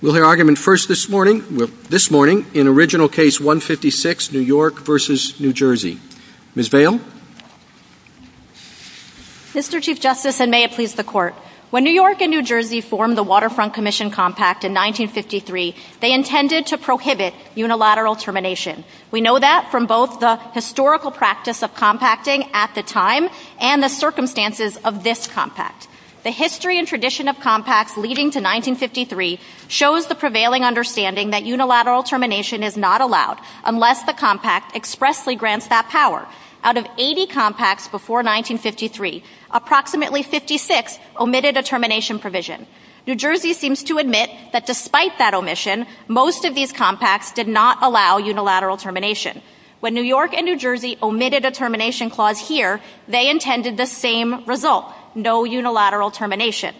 When New York and New Jersey formed the Waterfront Commission Compact in 1953, they intended to prohibit unilateral termination. We know that from both the historical practice of compacting at the time and the circumstances of this compact. The history and tradition of compacts leading to 1953 shows the prevailing understanding that unilateral termination is not allowed unless the compact expressly grants that power. Out of 80 compacts before 1953, approximately 56 omitted a termination provision. New Jersey seems to admit that despite that omission, most of these compacts did not allow unilateral termination. When New York and New Jersey omitted a termination clause here, they intended the same result, no unilateral termination.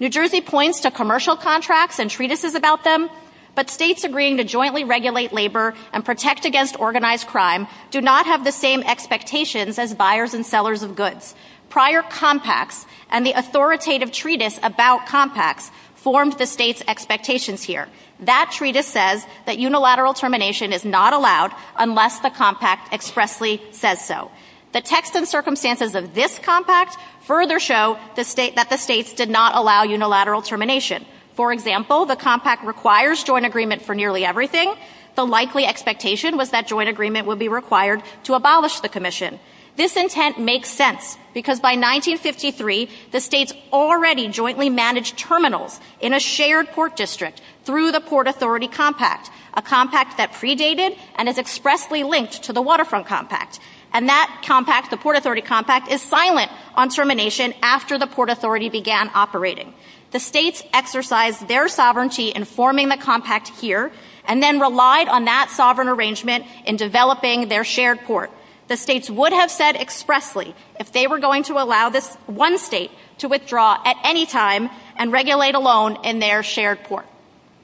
New Jersey points to commercial contracts and treatises about them, but states agreeing to jointly regulate labor and protect against organized crime do not have the same expectations as buyers and sellers of goods. Prior compacts and the authoritative treatise about compacts formed the state's expectations here. That treatise says that unilateral termination is not allowed unless the compact expressly says so. The text and circumstances of this compact further show that the states did not allow unilateral termination. For example, the compact requires joint agreement for nearly everything. The likely expectation was that joint agreement would be required to abolish the commission. This intent makes sense because by 1953, the states already jointly managed terminals in a shared court district through the Port Authority Compact, a compact that predated and is expressly linked to the Waterfront Compact. And that compact, the Port Authority Compact, is silent on termination after the Port Authority began operating. The states exercised their sovereignty in forming the compact here and then relied on that sovereign arrangement in developing their shared court. The states would have said expressly if they were going to allow this one state to withdraw at any time and regulate alone in their shared court.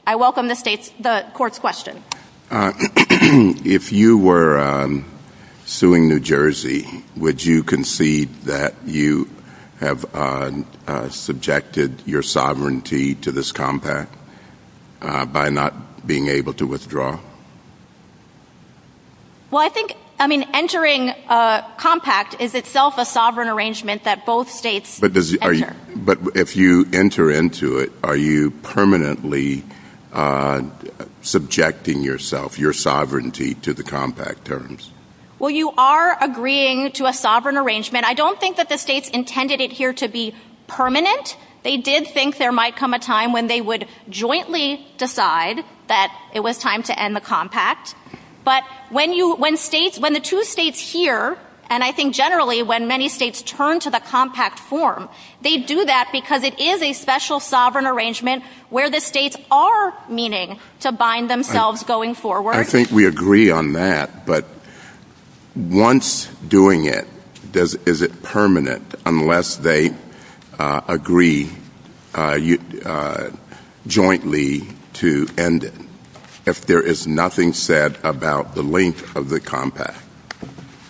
I welcome the court's question. If you were suing New Jersey, would you concede that you have subjected your sovereignty to this compact by not being able to withdraw? Well, I think, I mean, entering a compact is itself a sovereign arrangement that both states enter. But if you enter into it, are you permanently subjecting yourself, your sovereignty, to the compact terms? Well, you are agreeing to a sovereign arrangement. I don't think that the states intended it here to be permanent. They did think there might come a time when they would jointly decide that it was time to end the compact. But when you, when states, when the two states here, and I think generally when many states return to the compact form, they do that because it is a special sovereign arrangement where the states are meaning to bind themselves going forward. I think we agree on that, but once doing it, does, is it permanent unless they agree jointly to end it, if there is nothing said about the length of the compact?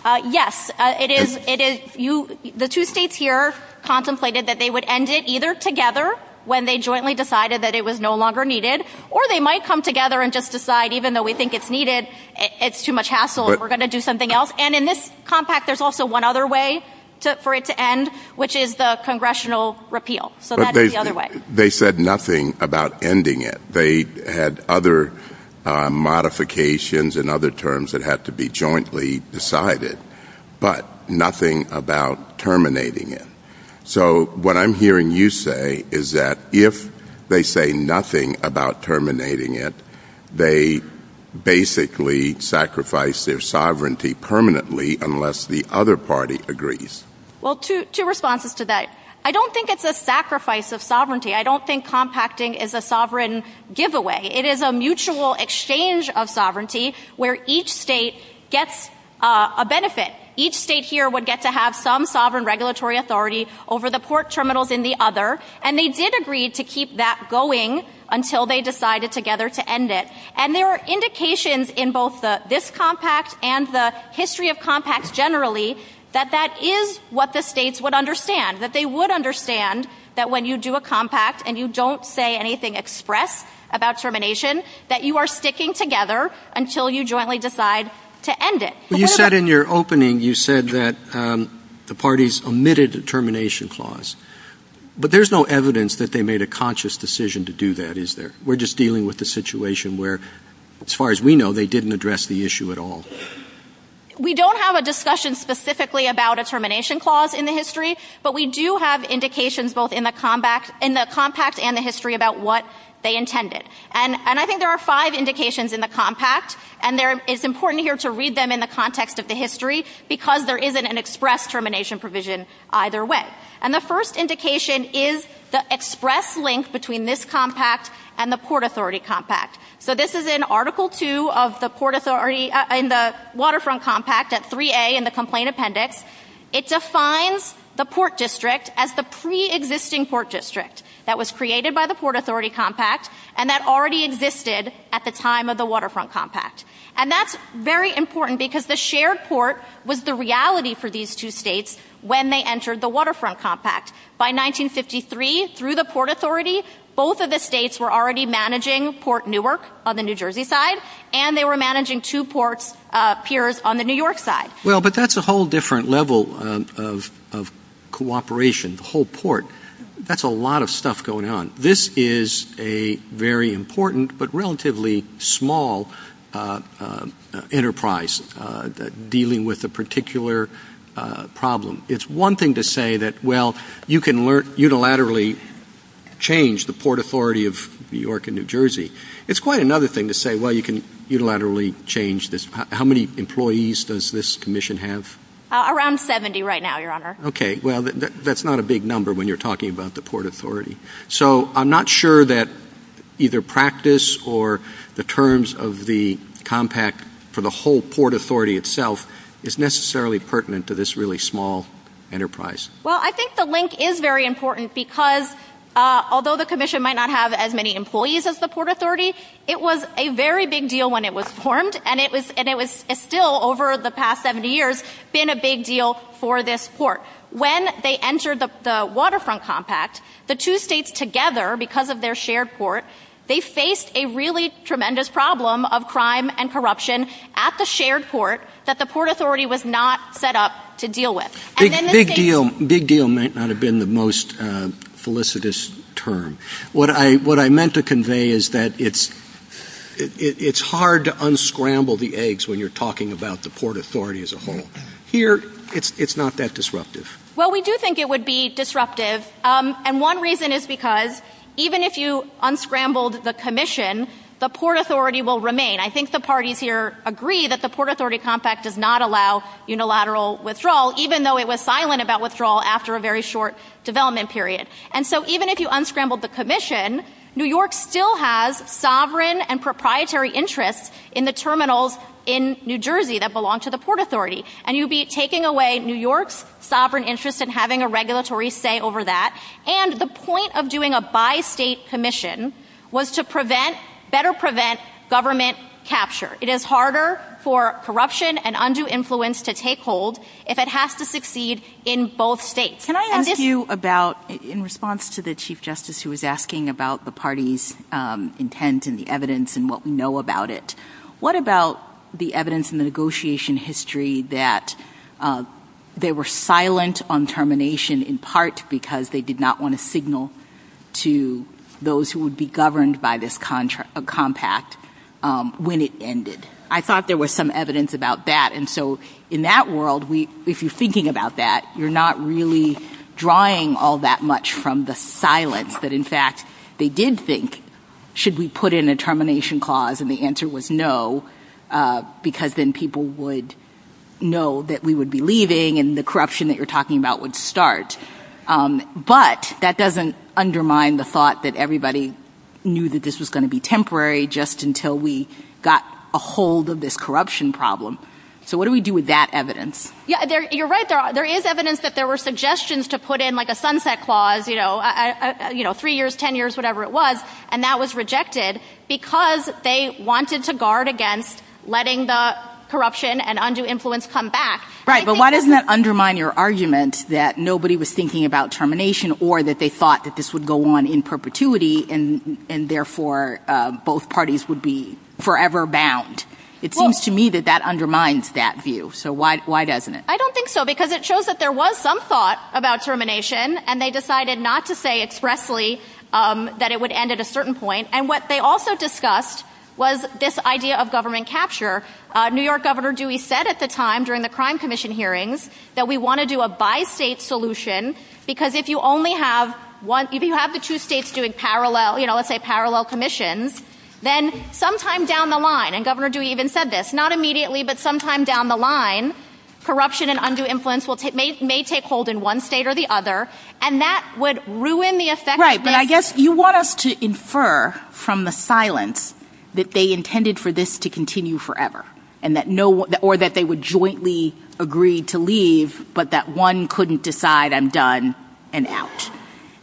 Yes, it is, it is, you, the two states here contemplated that they would end it either together when they jointly decided that it was no longer needed, or they might come together and just decide even though we think it's needed, it's too much hassle, we're going to do something else. And in this compact, there's also one other way for it to end, which is the congressional repeal. So that is the other way. But they said nothing about ending it. They had other modifications and other terms that had to be jointly decided, but nothing about terminating it. So what I'm hearing you say is that if they say nothing about terminating it, they basically sacrifice their sovereignty permanently unless the other party agrees. Well, two, two responses to that. I don't think it's a sacrifice of sovereignty. I don't think compacting is a sovereign giveaway. It is a mutual exchange of sovereignty where each state gets a benefit. Each state here would get to have some sovereign regulatory authority over the port terminals in the other. And they did agree to keep that going until they decided together to end it. And there are indications in both this compact and the history of compacts generally that that is what the states would understand. That they would understand that when you do a compact and you don't say anything express about termination, that you are sticking together until you jointly decide to end it. You said in your opening, you said that the parties omitted the termination clause. But there's no evidence that they made a conscious decision to do that, is there? We're just dealing with a situation where, as far as we know, they didn't address the issue at all. We don't have a discussion specifically about a termination clause in the history, but we do have indications both in the compact and the history about what they intended. And I think there are five indications in the compact. And it's important here to read them in the context of the history because there isn't an express termination provision either way. And the first indication is the express link between this compact and the Port Authority Compact. So this is in Article 2 of the Waterfront Compact at 3A in the complaint appendix. It defines the Port District as the pre-existing Port District that was created by the Port Authority Compact and that already existed at the time of the Waterfront Compact. And that's very important because the shared port was the reality for these two states when they entered the Waterfront Compact. By 1953, through the Port Authority, both of the states were already managing Port Newark on the New Jersey side and they were managing two port piers on the New York side. Well, but that's a whole different level of cooperation, the whole port. That's a lot of stuff going on. This is a very important but relatively small enterprise dealing with a particular problem. It's one thing to say that, well, you can learn unilaterally change the Port Authority of New York and New Jersey. It's quite another thing to say, well, you can unilaterally change this. How many employees does this commission have? Around 70 right now, Your Honor. Okay. Well, that's not a big number when you're talking about the Port Authority. So I'm not sure that either practice or the terms of the compact for the whole Port Authority itself is necessarily pertinent to this really small enterprise. Well, I think the link is very important because although the commission might not have as many employees as the Port Authority, it was a very big deal when it was formed and it was still over the past 70 years been a big deal for this port. When they entered the waterfront compact, the two states together because of their shared port, they faced a really tremendous problem of crime and corruption at the shared port that the Port Authority was not set up to deal with. Big deal might not have been the most felicitous term. What I meant to convey is that it's hard to unscramble the eggs when you're talking about the Port Authority as a whole. Here it's not that disruptive. Well, we do think it would be disruptive. And one reason is because even if you unscrambled the commission, the Port Authority will remain. I think the parties here agree that the Port Authority compact does not allow unilateral withdrawal, even though it was silent about withdrawal after a very short development period. And so even if you unscramble the commission, New York still has sovereign and proprietary interests in the terminals in New Jersey that belong to the Port Authority. And you'd be taking away New York's sovereign interest in having a regulatory say over that. And the point of doing a bi-state commission was to prevent, better prevent government capture. It is harder for corruption and undue influence to take hold if it has to succeed in both states. Can I ask you about, in response to the Chief Justice who was asking about the party's intent and the evidence and what we know about it, what about the evidence in the negotiation history that they were silent on termination in part because they did not want to signal to those who would be governed by this compact when it ended? I thought there was some evidence about that. And so in that world, if you're thinking about that, you're not really drawing all that much from the silence that, in fact, they did think, should we put in a termination clause? And the answer was no, because then people would know that we would be leaving and the corruption that you're talking about would start. But that doesn't undermine the thought that everybody knew that this was going to be temporary just until we got a hold of this corruption problem. So what do we do with that evidence? Yeah, you're right. There is evidence that there were suggestions to put in like a sunset clause, you know, three years, 10 years, whatever it was. And that was rejected because they wanted to guard against letting the corruption and undue influence come back. Right. But why doesn't that undermine your argument that nobody was thinking about termination or that they thought that this would go on in perpetuity and therefore both parties would be forever bound? It seems to me that that undermines that view. So why doesn't it? I don't think so, because it shows that there was some thought about termination and they decided not to say expressly that it would end at a certain point. And what they also discussed was this idea of government capture. New York Governor Dewey said at the time during the Crime Commission hearings that we want to do a bi-state solution, because if you only have one, if you have the two states doing parallel, you know, let's say parallel commission, then sometime down the line and Governor Dewey even said this, not immediately, but sometime down the line, corruption and undue influence may take hold in one state or the other. And that would ruin the effect. Right. But I guess you want us to infer from the silence that they intended for this to continue forever and that no or that they would jointly agree to leave, but that one couldn't decide I'm done and out.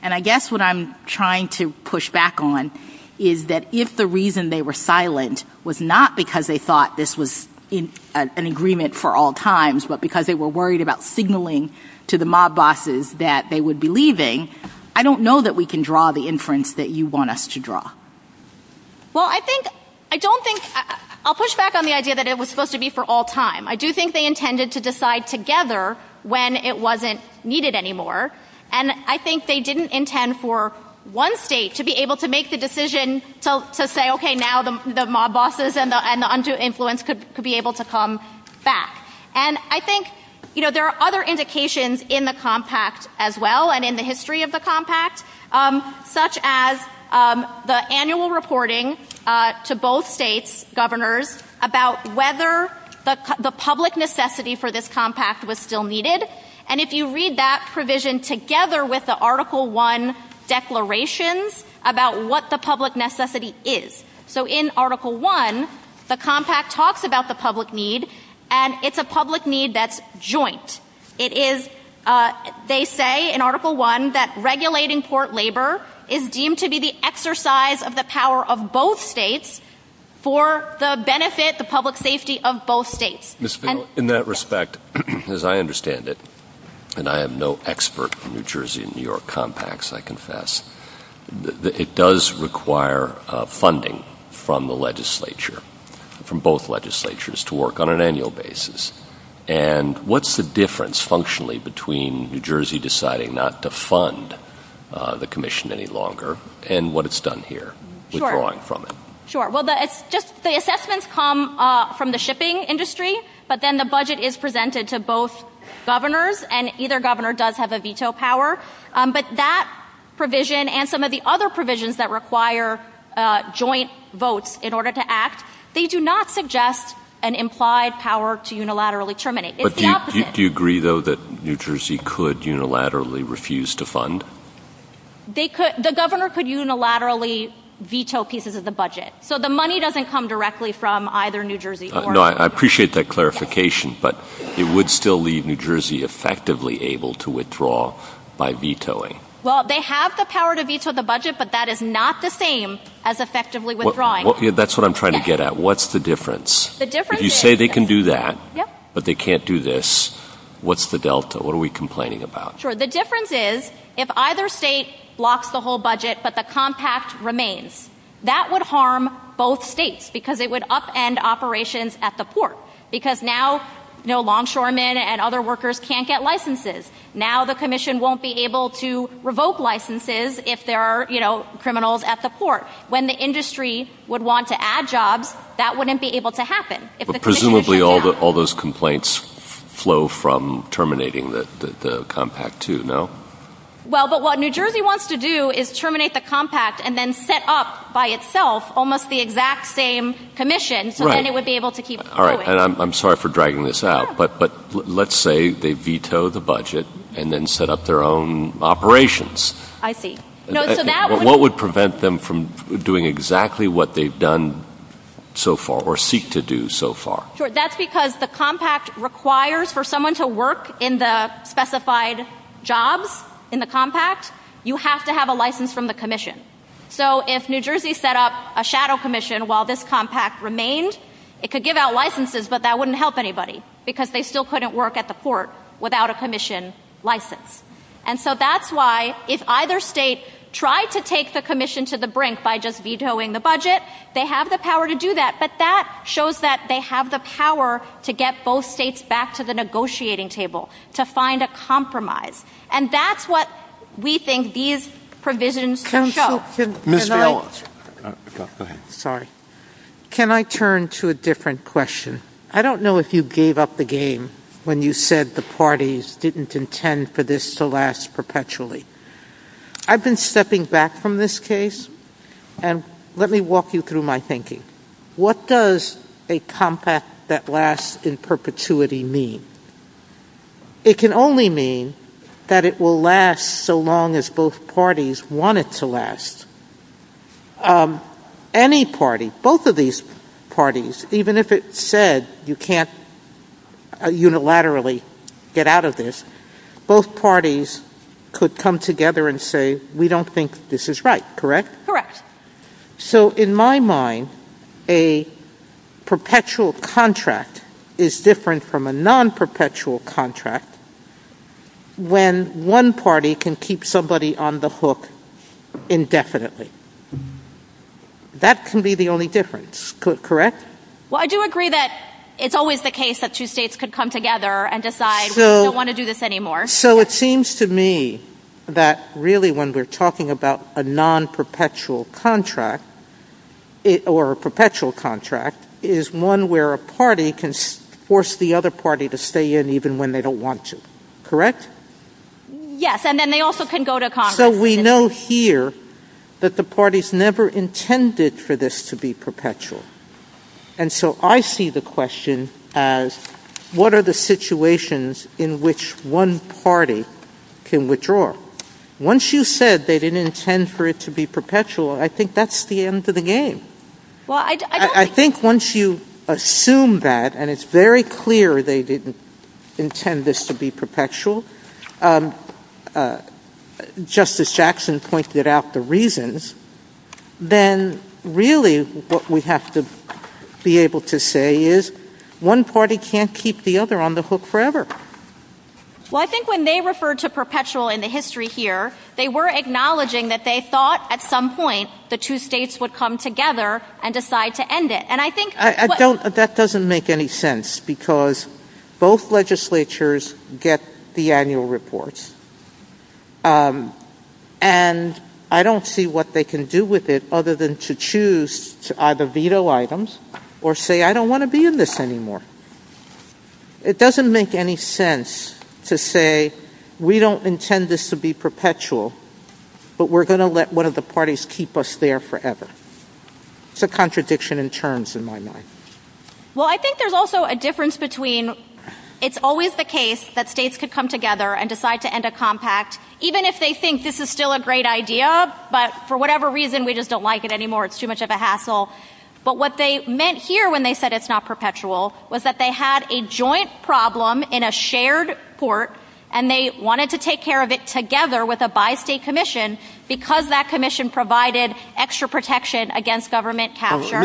And I guess what I'm trying to push back on is that if the reason they were silent was not because they thought this was an agreement for all times, but because they were worried about signaling to the mob bosses that they would be leaving. I don't know that we can draw the inference that you want us to draw. Well, I think I don't think I'll push back on the idea that it was supposed to be for all time. I do think they intended to decide together when it wasn't needed anymore. And I think they didn't intend for one state to be able to make the decision to say, OK, now the mob bosses and the undue influence could be able to come back. And I think, you know, there are other indications in the compact as well and in the history of the compact, such as the annual reporting to both state governors about whether the public necessity for this compact was still needed. And if you read that provision together with the Article 1 declarations about what the So in Article 1, the compact talks about the public need and it's a public need that's joint. It is, they say in Article 1, that regulating port labor is deemed to be the exercise of the power of both states for the benefit, the public safety of both states. In that respect, as I understand it, and I am no expert from New Jersey and New York compacts, I confess, it does require funding from the legislature, from both legislatures to work on an annual basis. And what's the difference functionally between New Jersey deciding not to fund the commission any longer and what it's done here? Sure. Sure. Well, it's just the assessments come from the shipping industry, but then the budget is presented to both governors and either governor does have a veto power. But that provision and some of the other provisions that require joint votes in order to act, they do not suggest an implied power to unilaterally terminate. But do you agree, though, that New Jersey could unilaterally refuse to fund? They could, the governor could unilaterally veto pieces of the budget, so the money doesn't come directly from either New Jersey. No, I appreciate that clarification, but it would still leave New Jersey effectively able to withdraw by vetoing. Well, they have the power to veto the budget, but that is not the same as effectively withdrawing. That's what I'm trying to get at. What's the difference? The difference is you say they can do that, but they can't do this. What's the delta? What are we complaining about? Sure. The difference is if either state blocks the whole budget, but the compact remains, that would harm both states because it would upend operations at the port because now no longshoremen and other workers can't get licenses. Now the commission won't be able to revoke licenses if there are criminals at the port. When the industry would want to add jobs, that wouldn't be able to happen. But presumably all those complaints flow from terminating the compact, too, no? Well, but what New Jersey wants to do is terminate the compact and then set up by itself almost the exact same commission and it would be able to keep. All right. And I'm sorry for dragging this out, but let's say they veto the budget and then set up their own operations. I see. What would prevent them from doing exactly what they've done so far or seek to do so far? That's because the compact requires for someone to work in the specified jobs in the compact. You have to have a license from the commission. So if New Jersey set up a shadow commission while this compact remains, it could give out licenses. But that wouldn't help anybody because they still couldn't work at the port without a commission license. And so that's why if either state tries to take the commission to the brink by just vetoing the budget, they have the power to do that. But that shows that they have the power to get both states back to the negotiating table to find a compromise. And that's what we think these provisions can show. Ms. Ellis. Sorry, can I turn to a different question? I don't know if you gave up the game when you said the parties didn't intend for this to last perpetually. I've been stepping back from this case and let me walk you through my thinking. What does a compact that lasts in perpetuity mean? It can only mean that it will last so long as both parties want it to last. Any party, both of these parties, even if it said you can't unilaterally get out of this, both parties could come together and say, we don't think this is right, correct? Correct. So in my mind, a perpetual contract is different from a non-perpetual contract. When one party can keep somebody on the hook indefinitely, that can be the only difference, correct? Well, I do agree that it's always the case that two states could come together and decide, we don't want to do this anymore. So it seems to me that really when we're talking about a non-perpetual contract or a perpetual contract, it's always the case that one party can keep somebody on the hook indefinitely, and when they don't want to, correct? Yes. And then they also can go to Congress. So we know here that the parties never intended for this to be perpetual. And so I see the question as what are the situations in which one party can withdraw? Once you said they didn't intend for it to be perpetual, I think that's the end of the game. Well, I think once you assume that and it's very clear they didn't intend this to be perpetual, Justice Jackson pointed out the reasons, then really what we have to be able to say is one party can't keep the other on the hook forever. Well, I think when they refer to perpetual in the history here, they were acknowledging that they thought at some point the two states would come together and decide to end it. And I think that doesn't make any sense because both legislatures get the annual reports. And I don't see what they can do with it other than to choose to either veto items or say, I don't want to be in this anymore. It doesn't make any sense to say we don't intend this to be perpetual, but we're going to let one of the parties keep us there forever. It's a contradiction in terms in my mind. Well, I think there's also a difference between it's always the case that states could come together and decide to end a compact, even if they think this is still a great idea. But for whatever reason, we just don't like it anymore. It's too much of a hassle. But what they meant here when they said it's not perpetual was that they had a joint problem in a shared court and they wanted to take care of it together with a by state commission because that commission provided extra protection against government capture.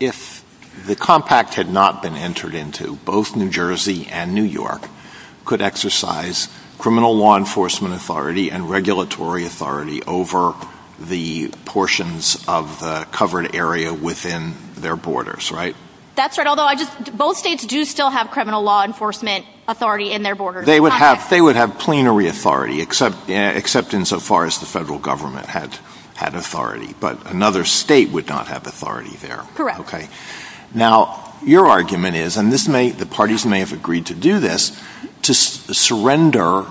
If the compact had not been entered into both New Jersey and New York could exercise criminal law enforcement authority and regulatory authority over the portions of the covered area within their borders. Right. That's right. Although I just both states do still have criminal law enforcement authority in their borders. They would have they would have plenary authority, except except in so far as the federal government had had authority. But another state would not have authority there. Correct. OK, now, your argument is and this may the parties may have agreed to do this to surrender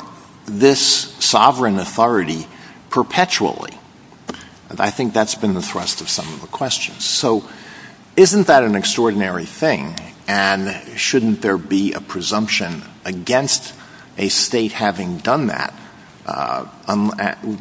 this sovereign authority perpetually. And I think that's been the thrust of some of the questions. So isn't that an extraordinary thing? And shouldn't there be a presumption against a state having done that,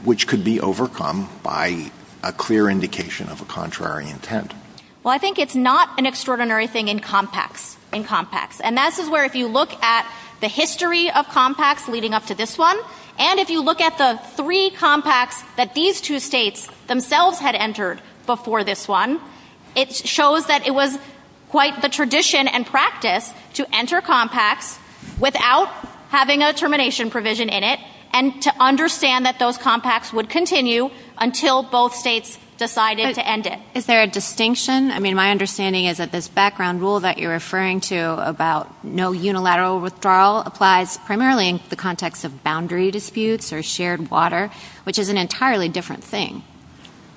which could be overcome by a clear indication of a contrary intent? Well, I think it's not an extraordinary thing in compacts and compacts. And that's where if you look at the history of compacts leading up to this one, and if you look at the three compacts that these two states themselves had entered before this one, it shows that it was quite the tradition and practice to enter compact without having a termination provision in it and to understand that those compacts would continue until both states decided to end it. Is there a distinction? I mean, my understanding is that this background rule that you're referring to about no shared water, which is an entirely different thing.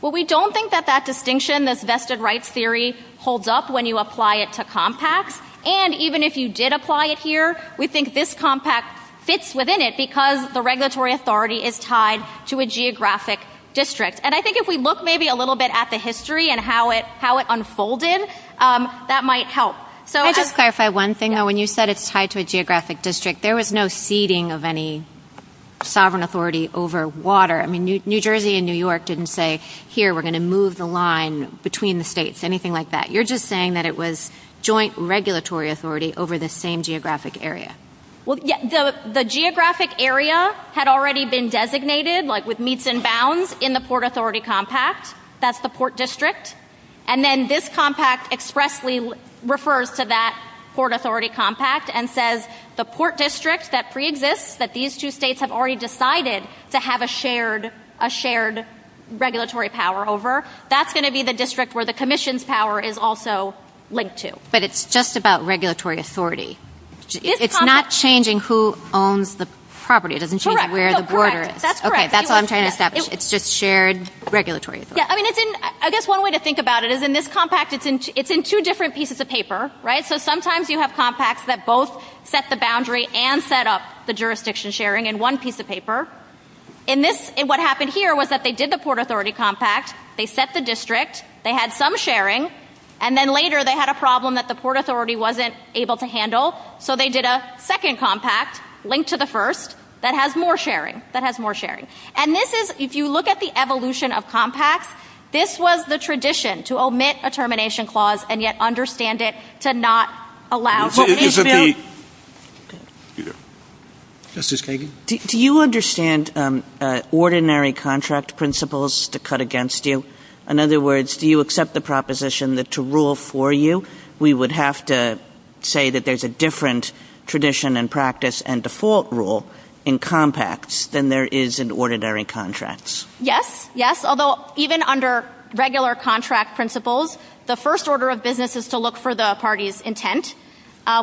Well, we don't think that that distinction, this vested rights theory holds up when you apply it to compacts. And even if you did apply it here, we think this compact fits within it because the regulatory authority is tied to a geographic district. And I think if we look maybe a little bit at the history and how it how it unfolded, that might help. So I just clarify one thing, though, when you said it's tied to a geographic district, there was no ceding of any sovereign authority over water. I mean, New Jersey and New York didn't say, here, we're going to move the line between the states, anything like that. You're just saying that it was joint regulatory authority over the same geographic area. Well, the geographic area had already been designated, like with meets and bounds, in the Port Authority Compact. That's the port district. And then this compact expressly refers to that Port Authority Compact and says the port district that pre-exists, that these two states have already decided to have a shared, a shared regulatory power over, that's going to be the district where the commission's power is also linked to. But it's just about regulatory authority. It's not changing who owns the property. It doesn't change where the border is. That's correct. That's what I'm trying to establish. It's just shared regulatory authority. Yeah, I mean, I guess one way to think about it is in this compact, it's in two different pieces of paper, right? So sometimes you have compacts that both set the boundary and set up the jurisdiction sharing in one piece of paper. In this, what happened here was that they did the Port Authority Compact, they set the district, they had some sharing, and then later they had a problem that the Port Authority wasn't able to handle, so they did a second compact linked to the first that has more sharing, that has more sharing. And this is, if you look at the evolution of compacts, this was the tradition to omit a lot. Justice Kagan, do you understand ordinary contract principles to cut against you? In other words, do you accept the proposition that to rule for you, we would have to say that there's a different tradition and practice and default rule in compacts than there is in ordinary contracts? Yes, yes. Although even under regular contract principles, the first order of business is to look for the party's intent,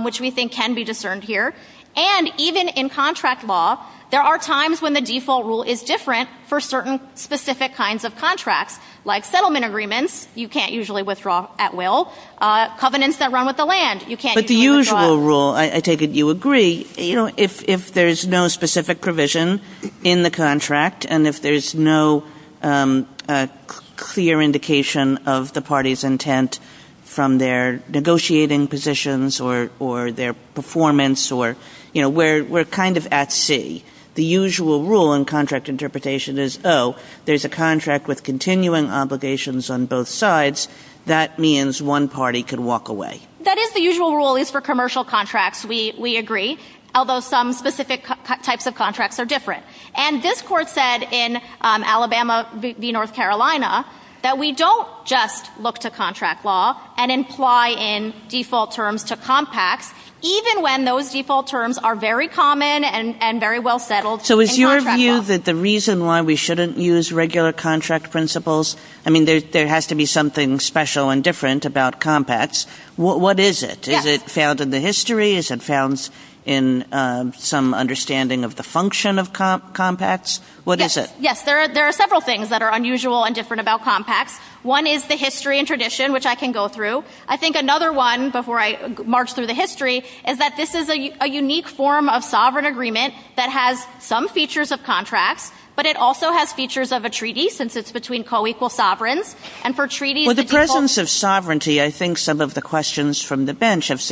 which we think can be discerned here. And even in contract law, there are times when the default rule is different for certain specific kinds of contracts, like settlement agreements, you can't usually withdraw at will, covenants that run with the land, you can't usually withdraw. But the usual rule, I take it you agree, you know, if there's no specific provision in the contract, and if there's no clear indication of the party's intent from their negotiating positions or their performance or, you know, we're kind of at sea. The usual rule in contract interpretation is, oh, there's a contract with continuing obligations on both sides. That means one party could walk away. That is the usual rule for commercial contracts. We agree. Although some specific types of contracts are different. And this court said in Alabama v. North Carolina, that we don't just look to contract law and imply in default terms to compacts, even when those default terms are very common and very well settled. So is your view that the reason why we shouldn't use regular contract principles? I mean, there has to be something special and different about compacts. What is it? Is it found in the history? Is it found in some understanding of the function of compacts? What is it? Yes, there are several things that are unusual and different about compacts. One is the history and tradition, which I can go through. I think another one, before I march through the history, is that this is a unique form of sovereign agreement that has some features of contracts, but it also has features of a treaty, since it's between co-equal sovereigns. And for treaties... With the presence of sovereignty, I think some of the questions from the bench have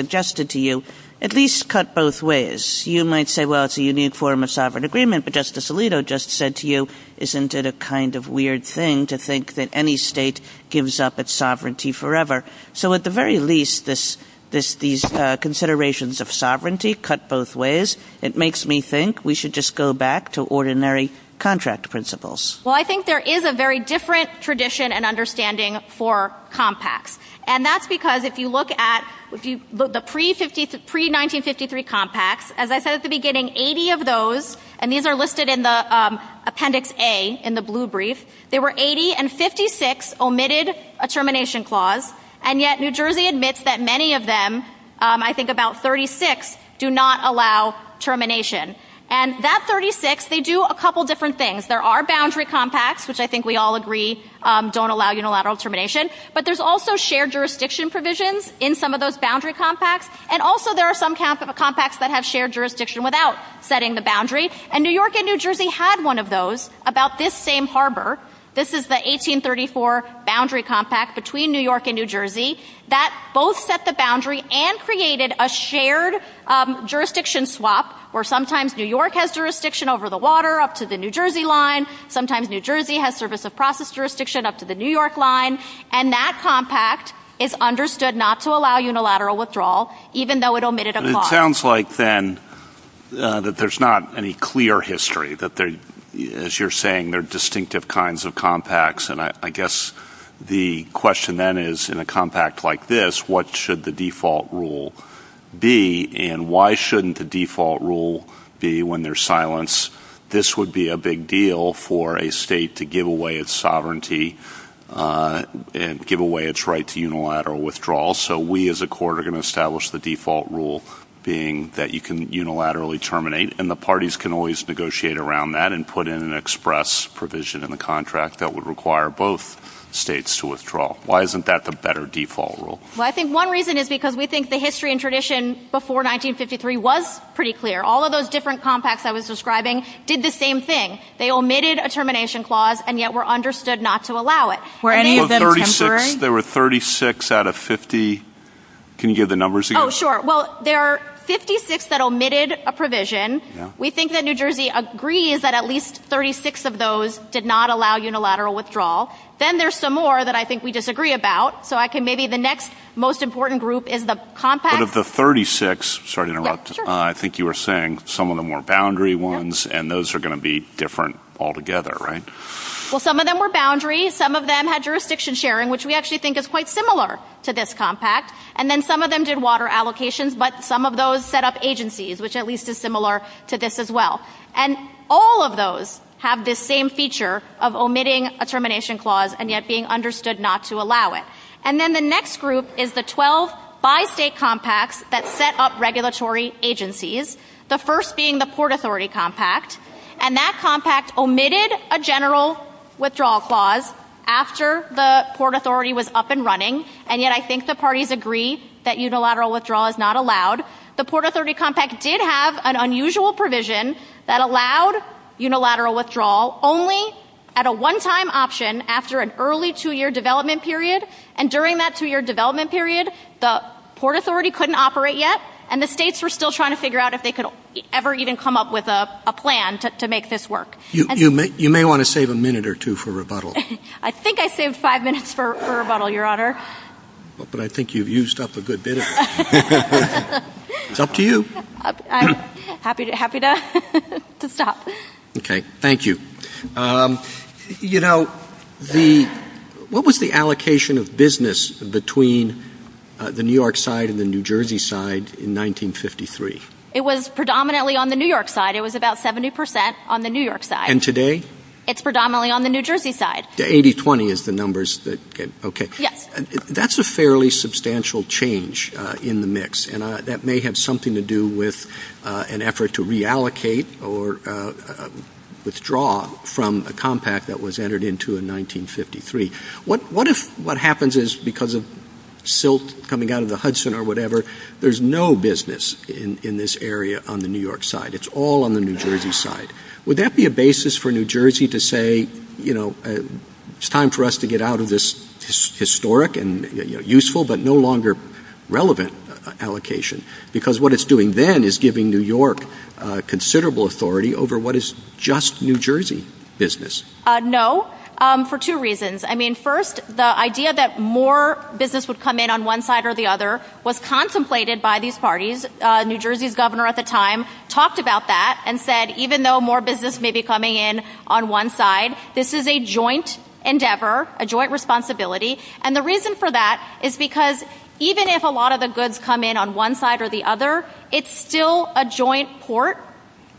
at least cut both ways. You might say, well, it's a unique form of sovereign agreement, but Justice Alito just said to you, isn't it a kind of weird thing to think that any state gives up its sovereignty forever? So at the very least, these considerations of sovereignty cut both ways. It makes me think we should just go back to ordinary contract principles. Well, I think there is a very different tradition and understanding for compacts. And that's because if you look at the pre-1953 compacts, as I said at the beginning, 80 of those, and these are listed in the Appendix A in the blue brief, there were 80 and 56 omitted a termination clause. And yet New Jersey admits that many of them, I think about 36, do not allow termination. And that 36, they do a couple of different things. There are boundary compacts, which I think we all agree don't allow unilateral termination. But there's also shared jurisdiction provisions in some of those boundary compacts. And also there are some compacts that have shared jurisdiction without setting the boundary. And New York and New Jersey had one of those about this same harbor. This is the 1834 boundary compact between New York and New Jersey that both set the boundary and created a shared jurisdiction swap where sometimes New York has jurisdiction over the water up to the New Jersey line. Sometimes New Jersey has service of process jurisdiction up to the New York line. And that compact is understood not to allow unilateral withdrawal, even though it omitted a clause. It sounds like then that there's not any clear history that they, as you're saying, they're distinctive kinds of compacts. And I guess the question then is in a compact like this, what should the default rule be and why shouldn't the default rule be when there's silence? This would be a big deal for a state to give away its sovereignty and give away its right to unilateral withdrawal. So we as a court are going to establish the default rule being that you can unilaterally terminate and the parties can always negotiate around that and put in an express provision in the contract that would require both states to withdraw. Why isn't that the better default rule? Well, I think one reason is because we think the history and tradition before 1953 was pretty clear. All of those different compacts I was describing did the same thing. They omitted a termination clause and yet were understood not to allow it. Were any of them contrary? There were 36 out of 50. Can you give the numbers again? Oh, sure. Well, there are 56 that omitted a provision. We think that New Jersey agrees that at least 36 of those did not allow unilateral withdrawal. Then there's some more that I think we disagree about. So I can maybe the next most important group is the compact. Out of the 36, I think you were saying some of them were boundary ones and those are going to be different altogether, right? Well, some of them were boundaries. Some of them had jurisdiction sharing, which we actually think is quite similar to this compact. And then some of them did water allocations. But some of those set up agencies, which at least is similar to this as well. And all of those have this same feature of omitting a termination clause and yet being understood not to allow it. And then the next group is the 12 by state compacts that set up regulatory agencies, the first being the Port Authority compact. And that compact omitted a general withdrawal clause after the Port Authority was up and running. And yet I think the parties agree that unilateral withdrawal is not allowed. The Port Authority compact did have an unusual provision that allowed unilateral withdrawal only at a one time option after an early two year development period. And during that two year development period, the Port Authority couldn't operate yet and the states were still trying to figure out if they could ever even come up with a plan to make this work. You may want to save a minute or two for rebuttal. I think I saved five minutes for rebuttal, Your Honor. But I think you've used up a good bit of it. It's up to you. I'm happy to happy to stop. OK, thank you. You know, the what was the allocation of business between the New York side and the New Jersey side in 1953? It was predominantly on the New York side. It was about 70 percent on the New York side. And today? It's predominantly on the New Jersey side. The 80-20 is the numbers. OK, that's a fairly substantial change in the mix. And that may have something to do with an effort to reallocate or withdraw from a compact that was entered into in 1953. What if what happens is because of silt coming out of the Hudson or whatever, there's no business in this area on the New York side. It's all on the New Jersey side. Would that be a basis for New Jersey to say, you know, it's time for us to get out of this historic and useful but no longer relevant allocation, because what it's doing then is giving New York considerable authority over what is just New Jersey business. No. For two reasons. I mean, first, the idea that more business would come in on one side or the other was contemplated by these parties. New Jersey's governor at the time talked about that and said, even though more business may be coming in on one side, this is a joint endeavor, a joint responsibility. And the reason for that is because even if a lot of the goods come in on one side or the other, it's still a joint port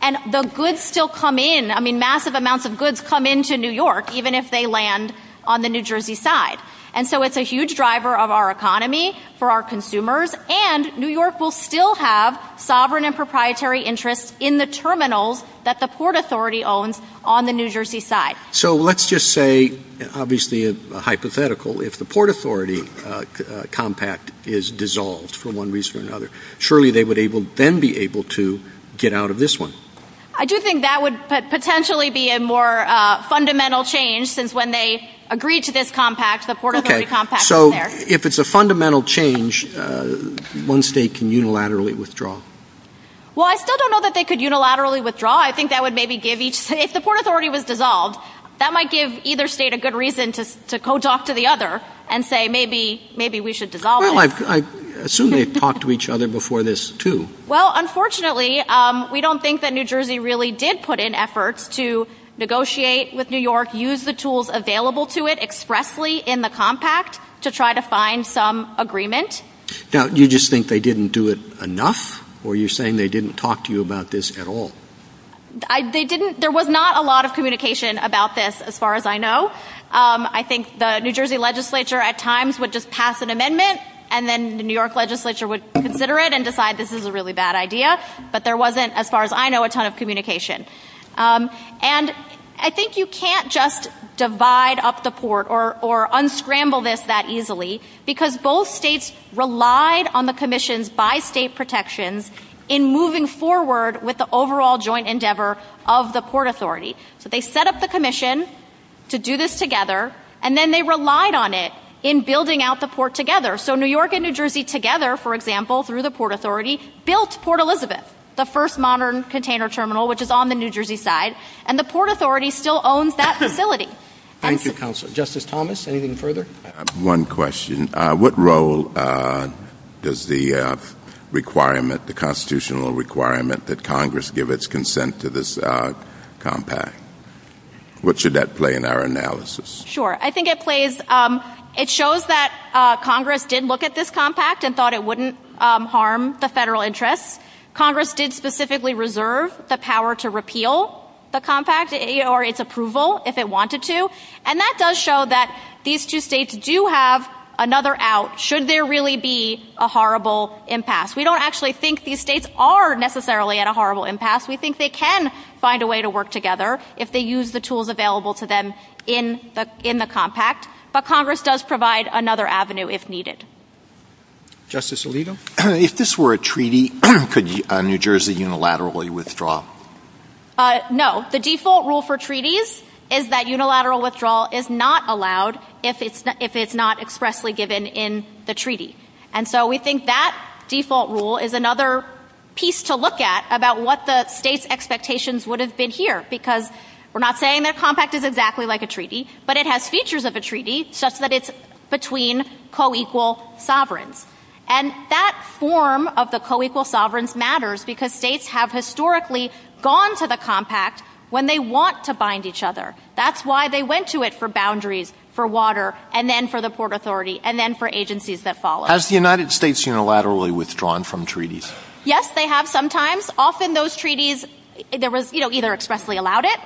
and the goods still come in. I mean, massive amounts of goods come into New York, even if they land on the New Jersey side. And so it's a huge driver of our economy for our consumers. And New York will still have sovereign and proprietary interests in the terminals that the Port Authority owns on the New Jersey side. So let's just say, obviously a hypothetical, if the Port Authority compact is dissolved for one reason or another, surely they would then be able to get out of this one. I do think that would potentially be a more fundamental change, since when they agreed to this compact, the Port Authority compact was there. So if it's a fundamental change, one state can unilaterally withdraw? Well, I still don't know that they could unilaterally withdraw. I think that would maybe give each state, if the Port Authority was dissolved, that might give either state a good reason to to code off to the other and say, maybe, maybe we should dissolve. Well, I assume they talked to each other before this, too. Well, unfortunately, we don't think that New Jersey really did put in efforts to negotiate with New York, use the tools available to it expressly in the compact to try to find some agreement. Now, you just think they didn't do it enough or you're saying they didn't talk to you about this at all? I think there was not a lot of communication about this, as far as I know. I think the New Jersey legislature at times would just pass an amendment and then the New York legislature would consider it and decide this is a really bad idea. But there wasn't, as far as I know, a ton of communication. And I think you can't just divide up the port or or unscramble this that easily because both states relied on the commissions by state protections in moving forward with the overall joint endeavor of the Port Authority. So they set up the commission to do this together and then they relied on it in building out the port together. So New York and New Jersey together, for example, through the Port Authority, built Port Elizabeth, the first modern container terminal, which is on the New Jersey side. And the Port Authority still owns that facility. Thank you, Counselor. Justice Thomas, anything further? One question. What role does the requirement, the constitutional requirement that Congress give its consent to this compact? What should that play in our analysis? Sure. I think it plays. It shows that Congress did look at this compact and thought it wouldn't harm the federal interest. Congress did specifically reserve the power to repeal the compact or its approval if it wanted to. And that does show that these two states do have another out should there really be a horrible impasse. We don't actually think these states are necessarily at a horrible impasse. We think they can find a way to work together if they use the tools available to them in in the compact. But Congress does provide another avenue if needed. Justice Alito, if this were a treaty, could New Jersey unilaterally withdraw? No, the default rule for treaties is that unilateral withdrawal is not allowed if it's not expressly given in the treaty. And so we think that default rule is another piece to look at about what the state's expectations would have been here, because we're not saying that compact is exactly like a treaty, but it has features of a treaty such that it's between co-equal sovereigns. And that form of the co-equal sovereigns matters because states have historically gone to the compact when they want to bind each other. That's why they went to it for boundaries, for water and then for the port authority and then for agencies that follow. Has the United States unilaterally withdrawn from treaties? Yes, they have sometimes. Often those treaties, there was either expressly allowed it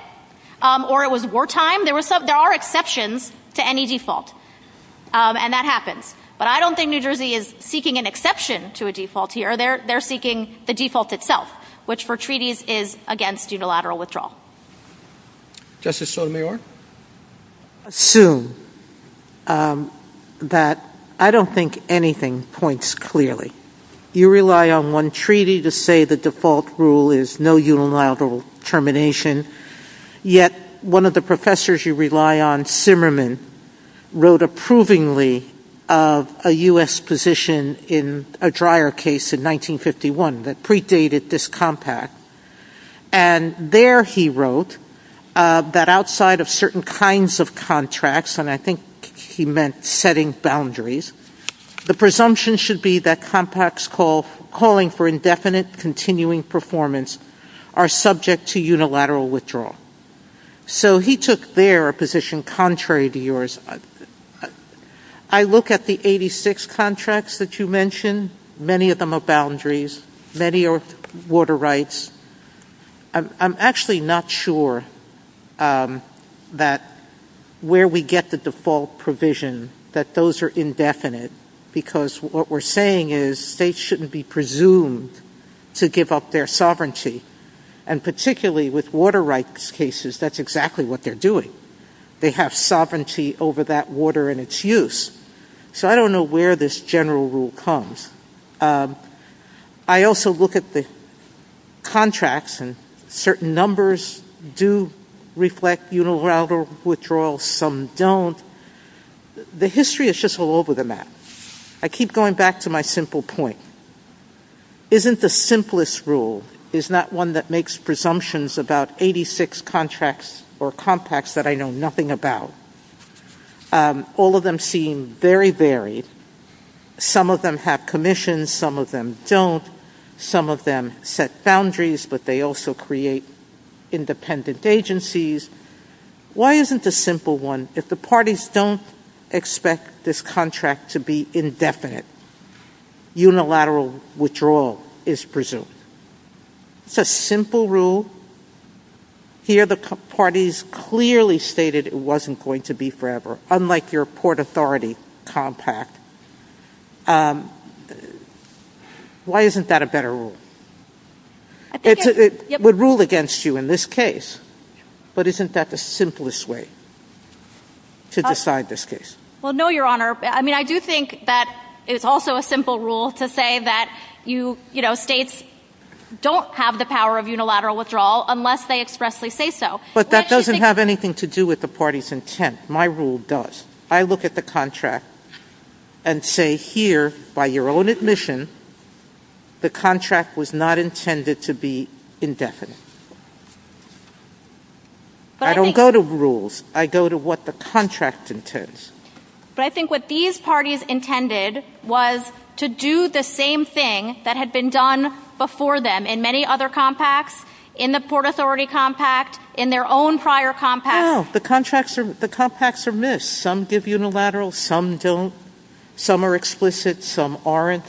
or it was wartime. There were some there are exceptions to any default and that happens. But I don't think New Jersey is seeking an exception to a default here. They're they're seeking the default itself, which for treaties is against unilateral withdrawal. Justice Sotomayor? Assume that I don't think anything points clearly. You rely on one treaty to say the default rule is no unilateral termination. Yet one of the professors you rely on, Simmerman, wrote approvingly of a U.S. position in a dryer case in 1951 that predated this compact. And there he wrote that outside of certain kinds of contracts, and I think he meant setting boundaries, the presumption should be that compacts call calling for indefinite continuing performance are subject to unilateral withdrawal. So he took their position contrary to yours. I look at the 86 contracts that you mentioned, many of them are boundaries, many are water rights. I'm actually not sure that where we get the default provision, that those are their sovereignty. And particularly with water rights cases, that's exactly what they're doing. They have sovereignty over that water and its use. So I don't know where this general rule comes. I also look at the contracts and certain numbers do reflect unilateral withdrawal. Some don't. The history is just all over the map. I keep going back to my simple point. Isn't the simplest rule is not one that makes presumptions about 86 contracts or compacts that I know nothing about. All of them seem very varied. Some of them have commissions, some of them don't. Some of them set boundaries, but they also create independent agencies. Why isn't the simple one, if the parties don't expect this contract to be indefinite, unilateral withdrawal is presumed. It's a simple rule. Here, the parties clearly stated it wasn't going to be forever, unlike your Port Authority Compact. Why isn't that a better rule? It would rule against you in this case, but isn't that the simplest way to decide this case? Well, no, Your Honor. I mean, I do think that it's also a simple rule to say that you know, states don't have the power of unilateral withdrawal unless they expressly say so. But that doesn't have anything to do with the party's intent. My rule does. I look at the contract and say here, by your own admission, the contract was not intended to be indefinite. I don't go to rules, I go to what the contract intends. But I think what these parties intended was to do the same thing that had been done before them in many other compacts, in the Port Authority Compact, in their own prior compacts. The contracts, the compacts are missed. Some give unilateral, some don't. Some are explicit, some aren't.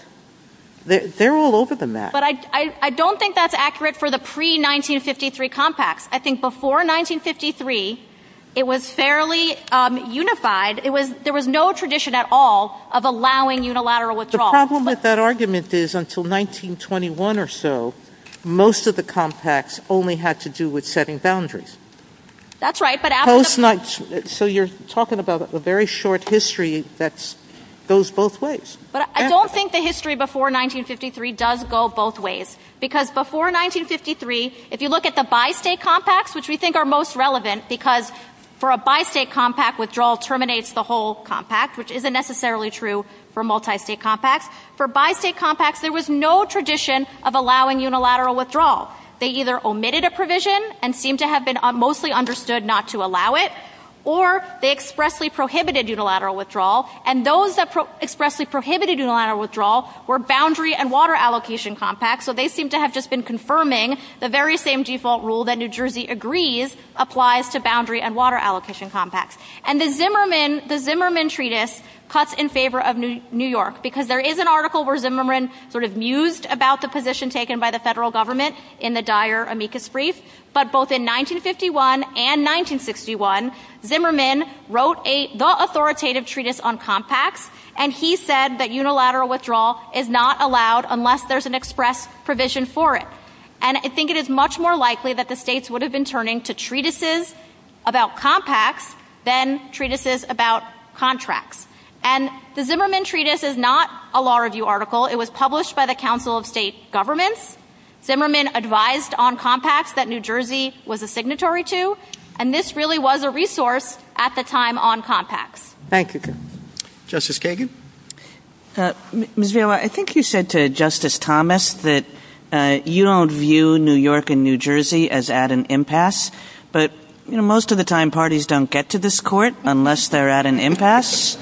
They're all over the map. But I don't think that's accurate for the pre-1953 compacts. I think before 1953, it was fairly unified. It was there was no tradition at all of allowing unilateral withdrawal. The problem with that argument is until 1921 or so, most of the compacts only had to do with setting boundaries. That's right. So you're talking about a very short history that goes both ways. But I don't think the history before 1953 does go both ways, because before 1953, if you look at the bi-state compacts, which we think are most relevant, because for a bi-state compact, withdrawal terminates the whole compact, which isn't necessarily true for multi-state compacts. For bi-state compacts, there was no tradition of allowing unilateral withdrawal. They either omitted a provision and seemed to have been mostly understood not to allow it, or they expressly prohibited unilateral withdrawal. And those that expressly prohibited unilateral withdrawal were boundary and water allocation compacts. So they seem to have just been confirming the very same default rule that New Jersey agrees applies to boundary and water allocation compacts. And the Zimmerman, the Zimmerman treatise cuts in favor of New York because there is an article where Zimmerman sort of mused about the position taken by the federal government in the dire amicus brief. But both in 1951 and 1961, Zimmerman wrote the authoritative treatise on compacts, and he said that unilateral withdrawal is not allowed unless there's an express provision for it. And I think it is much more likely that the states would have been turning to treatises about compacts than treatises about contracts. And the Zimmerman treatise is not a law review article. It was published by the Council of State Government. Zimmerman advised on compacts that New Jersey was a signatory to. And this really was a resource at the time on compacts. Thank you, Justice Kagan. Ms. Vail, I think you said to Justice Thomas that you don't view New York and New Jersey as at an impasse. But most of the time, parties don't get to this court unless they're at an impasse.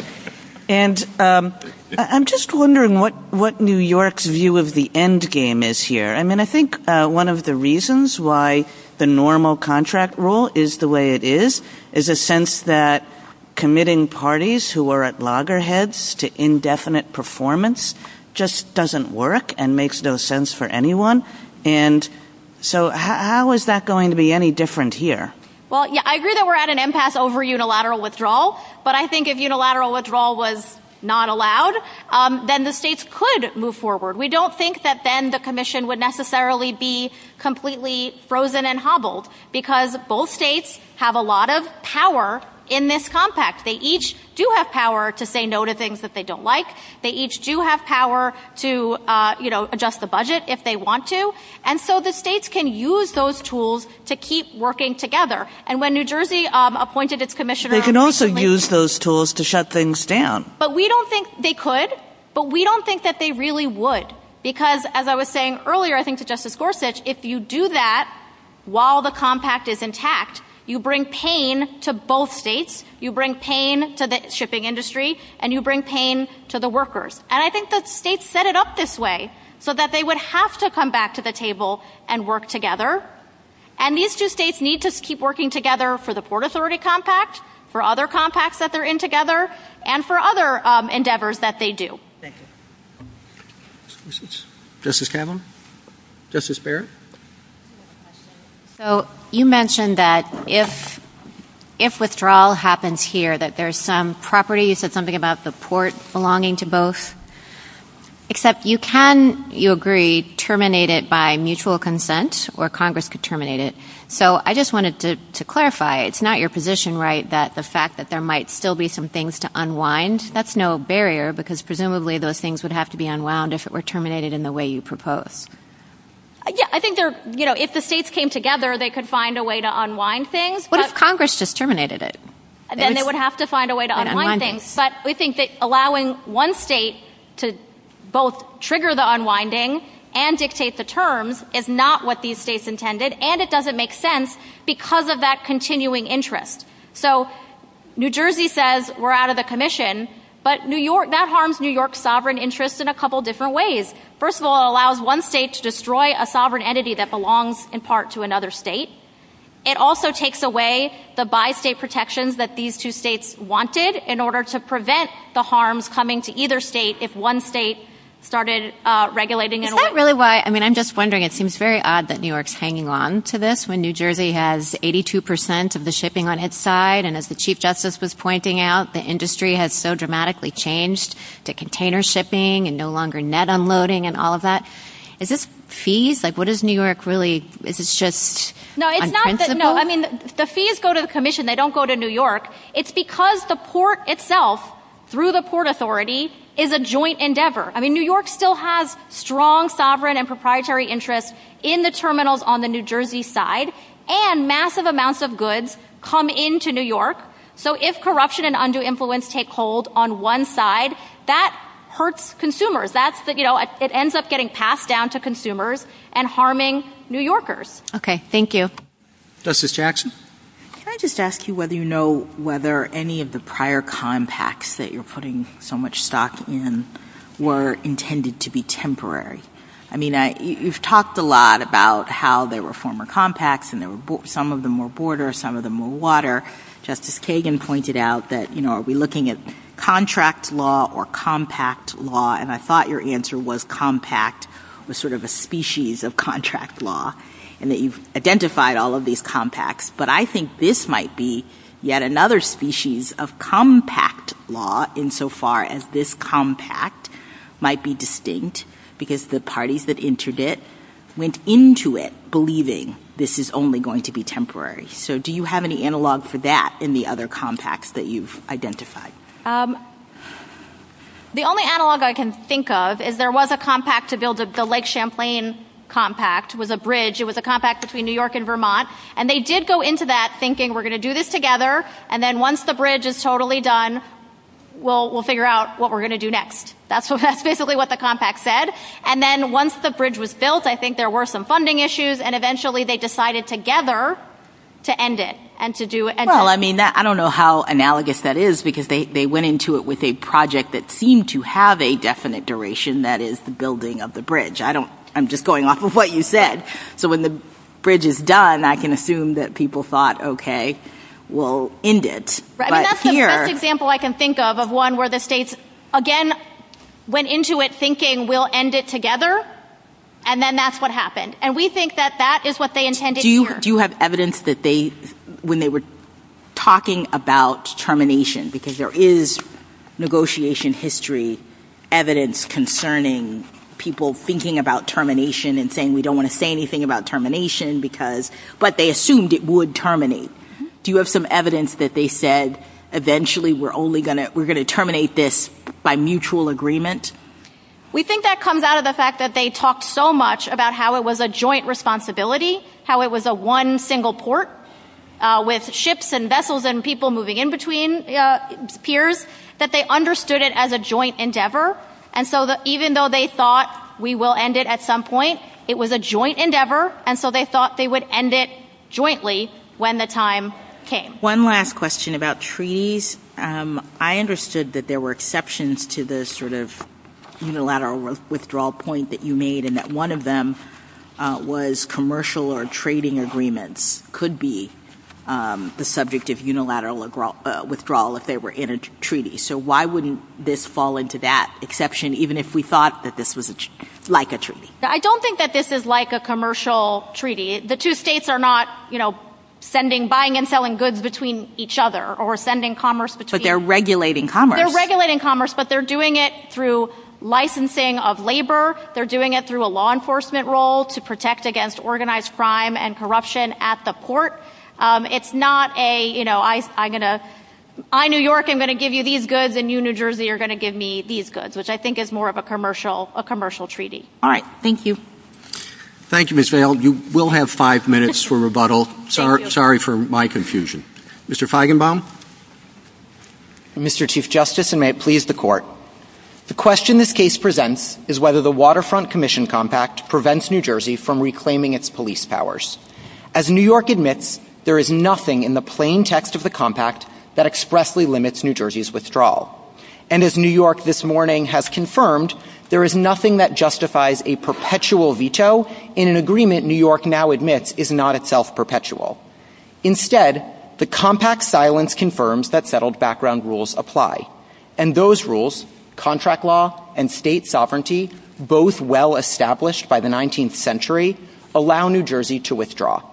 And I'm just wondering what what New York's view of the end game is here. I mean, I think one of the reasons why the normal contract rule is the way it is, is a sense that committing parties who are at loggerheads to indefinite performance just doesn't work and makes no sense for anyone. And so how is that going to be any different here? Well, I agree that we're at an impasse over unilateral withdrawal. But I think if unilateral withdrawal was not allowed, then the states could move forward. We don't think that then the commission would necessarily be completely frozen and hobbled because both states have a lot of power in this compact. They each do have power to say no to things that they don't like. They each do have power to adjust the budget if they want to. And so the states can use those tools to keep working together. And when New Jersey appointed its commissioner, they can also use those tools to shut things down. But we don't think they could. But we don't think that they really would. Because as I was saying earlier, I think that Justice Gorsuch, if you do that while the compact is intact, you bring pain to both states, you bring pain to the shipping industry and you bring pain to the workers. And I think the states set it up this way so that they would have to come back to the table and work together. And these two states need to keep working together for the Port Authority compact, for other compacts that they're in together and for other endeavors that they do. Justice Kavanaugh? Justice Barrett? So you mentioned that if withdrawal happens here, that there are some properties that something about the port belonging to both. Except you can, you agree, terminate it by mutual consent or Congress could terminate it. So I just wanted to clarify, it's not your position, right, that the fact that there might still be some things to unwind, that's no barrier because presumably those things would have to be unwound if it were terminated in the way you propose. I think, you know, if the states came together, they could find a way to unwind things. But if Congress just terminated it, then they would have to find a way to both trigger the unwinding and dictate the terms, if not what these states intended. And it doesn't make sense because of that continuing interest. So New Jersey says we're out of the commission, but New York, that harms New York sovereign interest in a couple of different ways. First of all, it allows one state to destroy a sovereign entity that belongs in part to another state. It also takes away the bi-state protections that these two states wanted in order to prevent the harms coming to either state if one state started regulating. Is that really why? I mean, I'm just wondering. It seems very odd that New York's hanging on to this when New Jersey has 82 percent of the shipping on its side. And as the chief justice was pointing out, the industry has so dramatically changed to container shipping and no longer net unloading and all of that. Is this fees? Like, what is New York really? Is it just. No, it's not that. No, I mean, the fees go to the commission. They don't go to New York. It's because the port itself, through the port authority, is a joint endeavor. I mean, New York still has strong, sovereign and proprietary interests in the terminals on the New Jersey side and massive amounts of goods come into New York. So if corruption and undue influence take hold on one side, that hurts consumers. That's that, you know, it ends up getting passed down to consumers and harming New Yorkers. OK, thank you. Justice Jackson, I just ask you whether you know. Whether any of the prior compacts that you're putting so much stock in were intended to be temporary. I mean, you've talked a lot about how there were former compacts and there were some of them were borders, some of them were water. Justice Kagan pointed out that, you know, are we looking at contract law or compact law? And I thought your answer was compact was sort of a species of contract law and that you've identified all of these compacts. But I think this might be yet another species of compact law in so far as this compact might be distinct because the parties that entered it went into it believing this is only going to be temporary. So do you have any analog for that in the other compacts that you've identified? The only analog I can think of is there was a compact to build the Lake Champlain compact was a bridge. It was a compact between New York and Vermont. And they did go into that thinking we're going to do this together. And then once the bridge is totally done, we'll figure out what we're going to do next. That's what that's basically what the compact said. And then once the bridge was built, I think there were some funding issues. And eventually they decided together to end it and to do it. Well, I mean, I don't know how analogous that is because they went into it with a project that seemed to have a definite duration. That is the building of the bridge. I don't I'm just going off of what you said. So when the bridge is done, I can assume that people thought, OK, we'll end it. Right. Here's an example I can think of of one where the states again went into it thinking we'll end it together. And then that's what happened. And we think that that is what they intended. Do you do you have evidence that they when they were talking about termination, because there is negotiation history evidence concerning people thinking about termination and saying we don't want to say anything about termination because but they assumed it would terminate. Do you have some evidence that they said eventually we're only going to we're going to terminate this by mutual agreement? We think that comes out of the fact that they talked so much about how it was a joint responsibility, how it was a one single port with ships and vessels and people moving in between peers that they understood it as a joint endeavor. And so even though they thought we will end it at some point, it was a joint endeavor. And so they thought they would end it jointly when the time came. One last question about trees. I understood that there were exceptions to the sort of unilateral withdrawal point that you made and that one of them was commercial or trading agreements could be the So why wouldn't this fall into that exception, even if we thought that this was like a tree? I don't think that this is like a commercial treaty. The two states are not, you know, sending, buying and selling goods between each other or sending commerce, but they're regulating, they're regulating commerce, but they're doing it through licensing of labor. They're doing it through a law enforcement role to protect against organized crime and corruption at the court. It's not a, you know, I'm going to, I, New York, I'm going to give you these goods and you, New Jersey, are going to give me these goods, which I think is more of a commercial, a commercial treaty. All right. Thank you. Thank you, Ms. Vail. You will have five minutes for rebuttal. Sorry for my confusion. Mr. Feigenbaum. Mr. Chief Justice, and may it please the court. The question this case presents is whether the Waterfront Commission compact prevents New Jersey from reclaiming its police powers. As New York admits, there is nothing in the plain text of the compact that expressly limits New Jersey's withdrawal. And as New York this morning has confirmed, there is nothing that justifies a perpetual veto in an agreement New York now admits is not itself perpetual. Instead, the compact silence confirms that settled background rules apply. And those rules, contract law and state sovereignty, both well established by the contract law, are subject to withdrawal.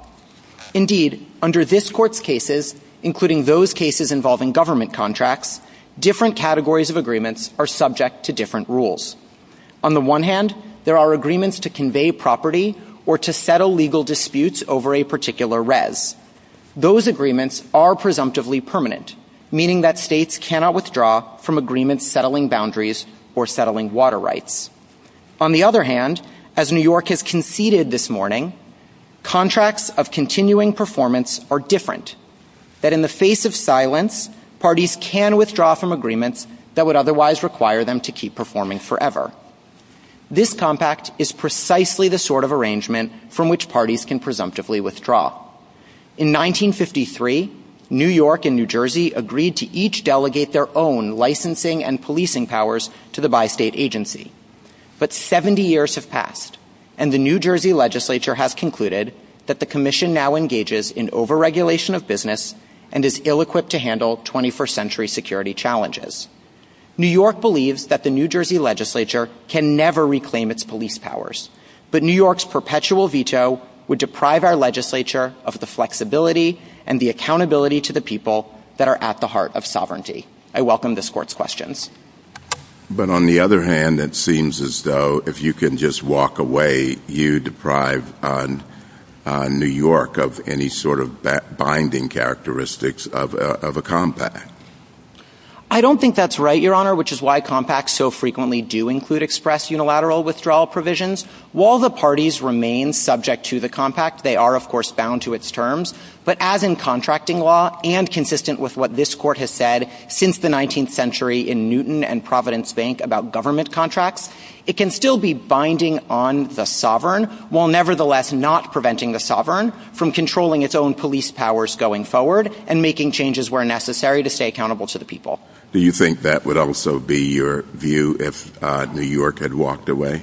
Indeed, under this court's cases, including those cases involving government contracts, different categories of agreements are subject to different rules. On the one hand, there are agreements to convey property or to settle legal disputes over a particular res. Those agreements are presumptively permanent, meaning that states cannot withdraw from agreements settling boundaries or settling water rights. On the other hand, as New York has conceded this morning, contracts of continuing performance are different, that in the face of silence, parties can withdraw from agreements that would otherwise require them to keep performing forever. This compact is precisely the sort of arrangement from which parties can presumptively withdraw. In 1953, New York and New Jersey agreed to each delegate their own licensing and policing powers to the bi-state agency. But 70 years have passed and the New Jersey legislature has concluded that the commission now engages in overregulation of business and is ill-equipped to handle 21st century security challenges. New York believes that the New Jersey legislature can never reclaim its police powers, but New York's perpetual veto would deprive our legislature of the flexibility and the accountability to the people that are at the heart of sovereignty. I welcome this court's questions. But on the other hand, that seems as though if you can just walk away, you deprive New York of any sort of binding characteristics of a compact. I don't think that's right, Your Honor, which is why compacts so frequently do include express unilateral withdrawal provisions. While the parties remain subject to the compact, they are, of course, bound to its terms, but as in contracting law and consistent with what this court has said since the 19th century in Newton and Providence Bank about government contracts, it can still be binding on the sovereign while nevertheless not preventing the sovereign from controlling its own police powers going forward and making changes where necessary to stay accountable to the people. Do you think that would also be your view if New York had walked away?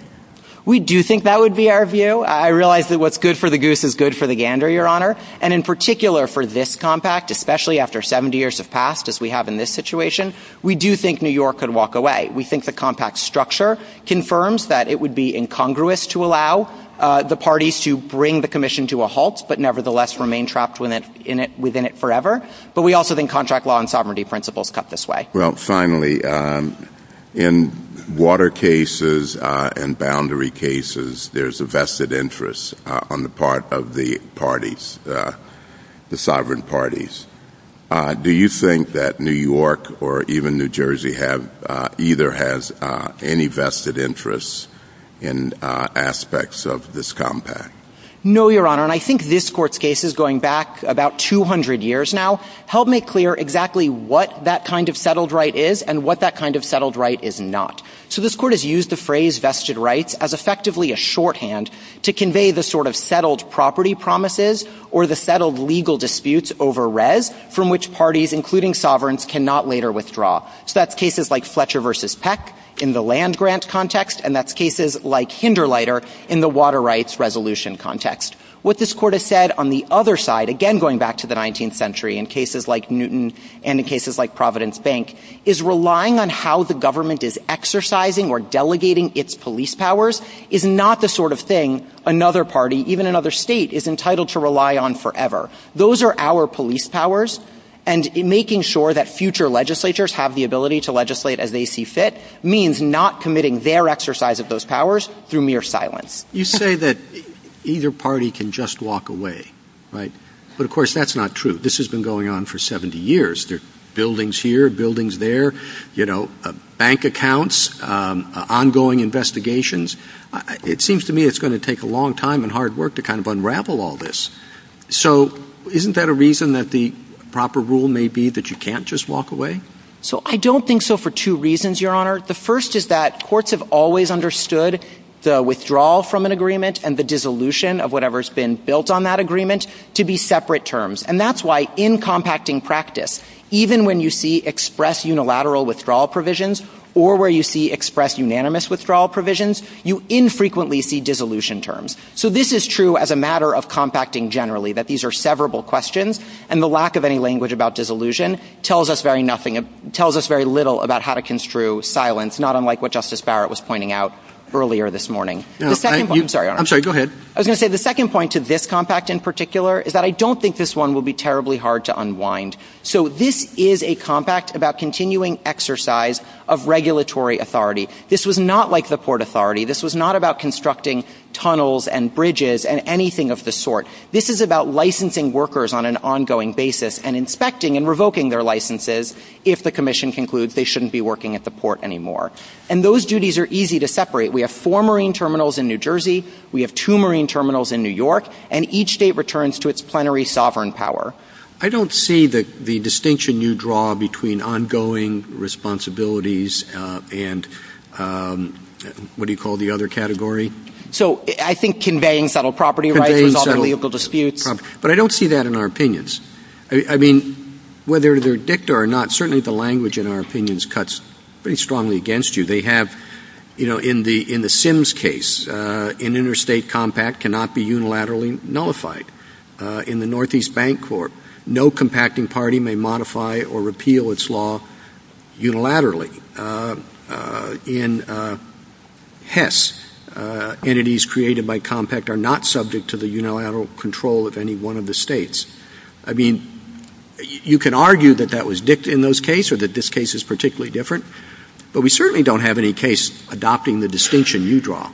We do think that would be our view. I realize that what's good for the goose is good for the gander, Your Honor. And in particular for this compact, especially after 70 years have passed, as we have in this situation, we do think New York could walk away. We think the compact structure confirms that it would be incongruous to allow the parties to bring the commission to a halt, but nevertheless remain trapped within it forever. But we also think contract law and sovereignty principles cut this way. Well, finally, in water cases and boundary cases, there's a vested interest on the part of the parties, the sovereign parties. Do you think that New York or even New Jersey have either has any vested interests in aspects of this compact? No, Your Honor, and I think this court's case is going back about 200 years now, helped make clear exactly what that kind of settled right is and what that kind of settled right is not. So this court has used the phrase vested rights as effectively a shorthand to convey the sort of settled property promises or the settled legal disputes over res from which parties, including sovereigns, cannot later withdraw. So that's cases like Fletcher versus Peck in the land grant context. And that's cases like Hinder Lider in the water rights resolution context. What this court has said on the other side, again, going back to the 19th century in cases like Newton and in cases like Providence Bank, is relying on how the government is exercising or delegating its police powers is not the sort of thing another party, even another state, is entitled to rely on forever. Those are our police powers. And in making sure that future legislators have the ability to legislate as they see fit means not committing their exercise of those powers through mere silence. You say that either party can just walk away. Right. But of course, that's not true. This has been going on for 70 years. There are buildings here, buildings there, you know, bank accounts, ongoing investigations. It seems to me it's going to take a long time and hard work to kind of unravel all this. So isn't that a reason that the proper rule may be that you can't just walk away? So I don't think so for two reasons, Your Honor. The first is that courts have always understood the withdrawal from an agreement and the dissolution of whatever's been built on that agreement to be separate terms. And that's why in compacting practice, even when you see express unilateral withdrawal provisions or where you see express unanimous withdrawal provisions, you infrequently see dissolution terms. So this is true as a matter of compacting generally, that these are severable questions. And the lack of any language about dissolution tells us very nothing, tells us very little about how to construe silence, not unlike what Justice Barrett was pointing out earlier this morning. I'm sorry. I'm sorry. Go ahead. I was going to say the second point to this compact in particular is that I don't think this one will be terribly hard to unwind. So this is a compact about continuing exercise of regulatory authority. This was not like the Port Authority. This was not about constructing tunnels and bridges and anything of the sort. This is about licensing workers on an ongoing basis and inspecting and revoking their licenses. If the commission concludes they shouldn't be working at the port anymore. And those duties are easy to separate. We have four marine terminals in New Jersey. We have two marine terminals in New York. And each state returns to its plenary sovereign power. I don't see that the distinction you draw between ongoing responsibilities and what do you call the other category? So I think conveying subtle property rights is equally disputed. But I don't see that in our opinions. I mean, whether they're dicta or not, certainly the language in our opinions cuts pretty strongly against you. They have, you know, in the in the Sims case, an interstate compact cannot be unilaterally nullified. In the Northeast Bank Court, no compacting party may modify or repeal its law unilaterally. In HES, entities created by compact are not subject to the unilateral control of any one of the states. I mean, you can argue that that was dicta in those cases or that this case is particularly different. But we certainly don't have any case adopting the distinction you draw.